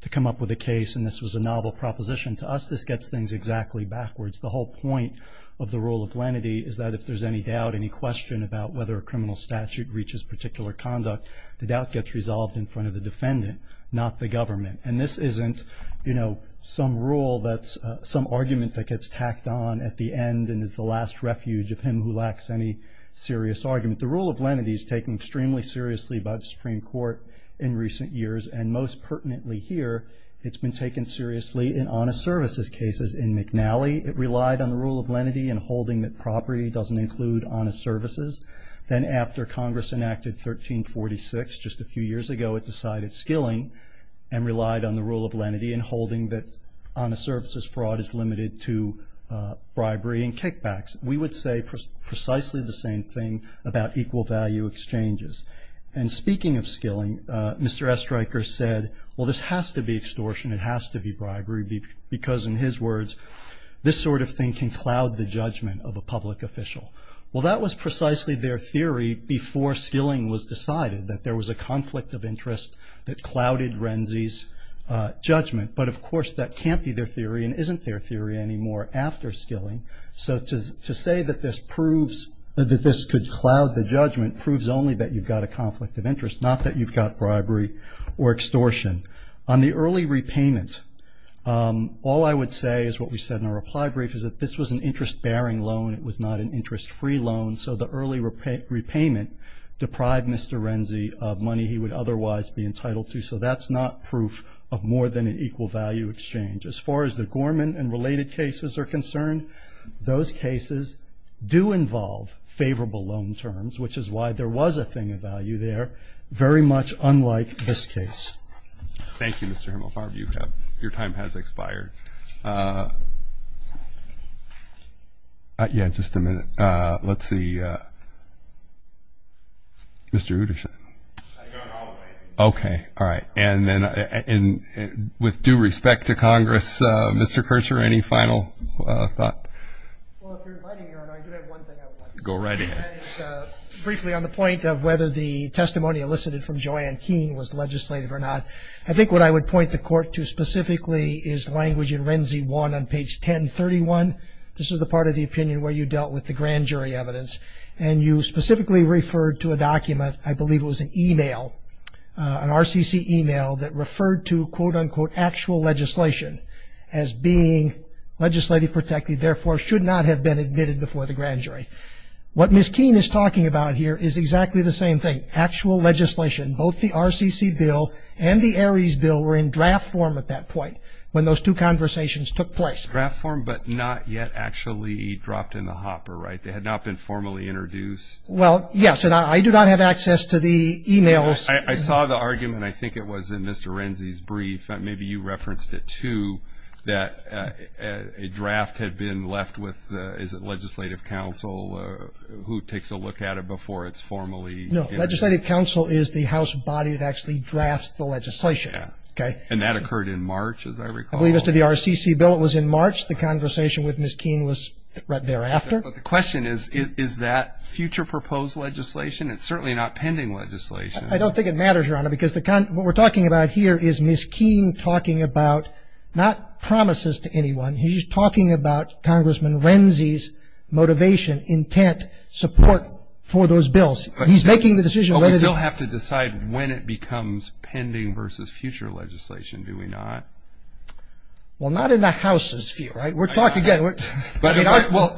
to come up with a case, and this was a novel proposition to us. This gets things exactly backwards. The whole point of the rule of lenity is that if there's any doubt, any question about whether a criminal statute reaches particular conduct, the doubt gets resolved in front of the defendant, not the government. And this isn't, you know, some rule that's some argument that gets tacked on at the end and it's the last refuge of him who lacks any serious argument. The rule of lenity is taken extremely seriously by the Supreme Court in recent years, and most pertinently here, it's been taken seriously in honest services cases in McNally. It relied on the rule of lenity and holding that property doesn't include honest services. Then after Congress enacted 1346 just a few years ago, it decided skilling and relied on the rule of lenity and holding that honest services fraud is limited to bribery and kickbacks. We would say precisely the same thing about equal value exchanges. And speaking of skilling, Mr. Estreicher said, well, this has to be extortion, it has to be bribery, because in his words, this sort of thing can cloud the judgment of a public official. Well, that was precisely their theory before skilling was decided, that there was a conflict of interest that clouded Renzi's judgment. But, of course, that can't be their theory and isn't their theory anymore after skilling. So to say that this proves that this could cloud the judgment proves only that you've got a conflict of interest, not that you've got bribery or extortion. On the early repayment, all I would say is what we said in our reply brief, is that this was an interest-bearing loan. It was not an interest-free loan. So the early repayment deprived Mr. Renzi of money he would otherwise be entitled to. So that's not proof of more than an equal value exchange. As far as the Gorman and related cases are concerned, those cases do involve favorable loan terms, which is why there was a thing of value there, very much unlike this case. Thank you, Mr. Himmelfarb. Your time has expired. Yeah, just a minute. Let's see. Mr. Utterson. Okay. All right. And then with due respect to Congress, Mr. Kercher, any final thought? Go right ahead. Briefly, on the point of whether the testimony elicited from Joanne Keene was legislative or not, I think what I would point the court to specifically is language in Renzi 1 on page 1031. This is the part of the opinion where you dealt with the grand jury evidence. And you specifically referred to a document, I believe it was an email, an RCC email, that referred to, quote, unquote, actual legislation as being legislative protected, therefore should not have been admitted before the grand jury. What Ms. Keene is talking about here is exactly the same thing, actual legislation. Both the RCC bill and the Ares bill were in draft form at that point when those two conversations took place. Draft form, but not yet actually dropped in the hopper, right? They had not been formally introduced? Well, yes. And I do not have access to the emails. I saw the argument, I think it was, in Mr. Renzi's brief. Maybe you referenced it, too, that a draft had been left with, is it legislative council, who takes a look at it before it's formally introduced? No, legislative council is the house body that actually drafts the legislation. And that occurred in March, as I recall. I believe it was to the RCC bill. It was in March. The conversation with Ms. Keene was right thereafter. But the question is, is that future proposed legislation? It's certainly not pending legislation. I don't think it matters, Your Honor, because what we're talking about here is Ms. Keene talking about, not promises to anyone, he's talking about Congressman Renzi's motivation, intent, support for those bills. He's making the decision. But we still have to decide when it becomes pending versus future legislation, do we not? Well, not in the House's view, right? We're talking, again. Well,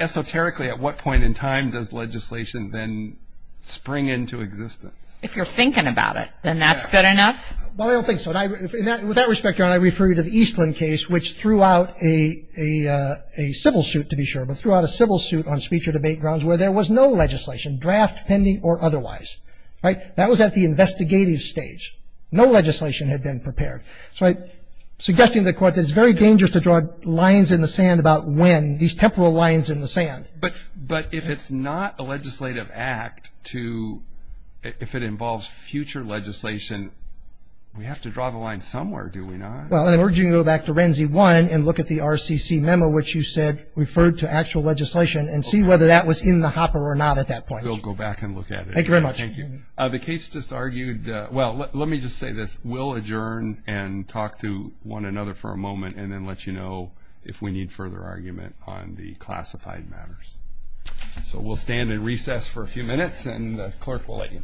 esoterically, at what point in time does legislation then spring into existence? If you're thinking about it, then that's good enough? Well, I don't think so. With that respect, Your Honor, I refer you to the Eastland case, which threw out a civil suit, to be sure, but threw out a civil suit on speech or debate grounds where there was no legislation, draft, pending, or otherwise. Right? That was at the investigative stage. No legislation had been prepared. Suggesting to the Court that it's very dangerous to draw lines in the sand about when, these temporal lines in the sand. But if it's not a legislative act to, if it involves future legislation, we have to draw the line somewhere, do we not? I urge you to go back to Renzi 1 and look at the RCC memo, which you said referred to actual legislation, and see whether that was in the hopper or not at that point. We'll go back and look at it. Thank you very much. Thank you. The case just argued, well, let me just say this. We'll adjourn and talk to one another for a moment, and then let you know if we need further argument on the classified matters. So we'll stand and recess for a few minutes, and the clerk will let you.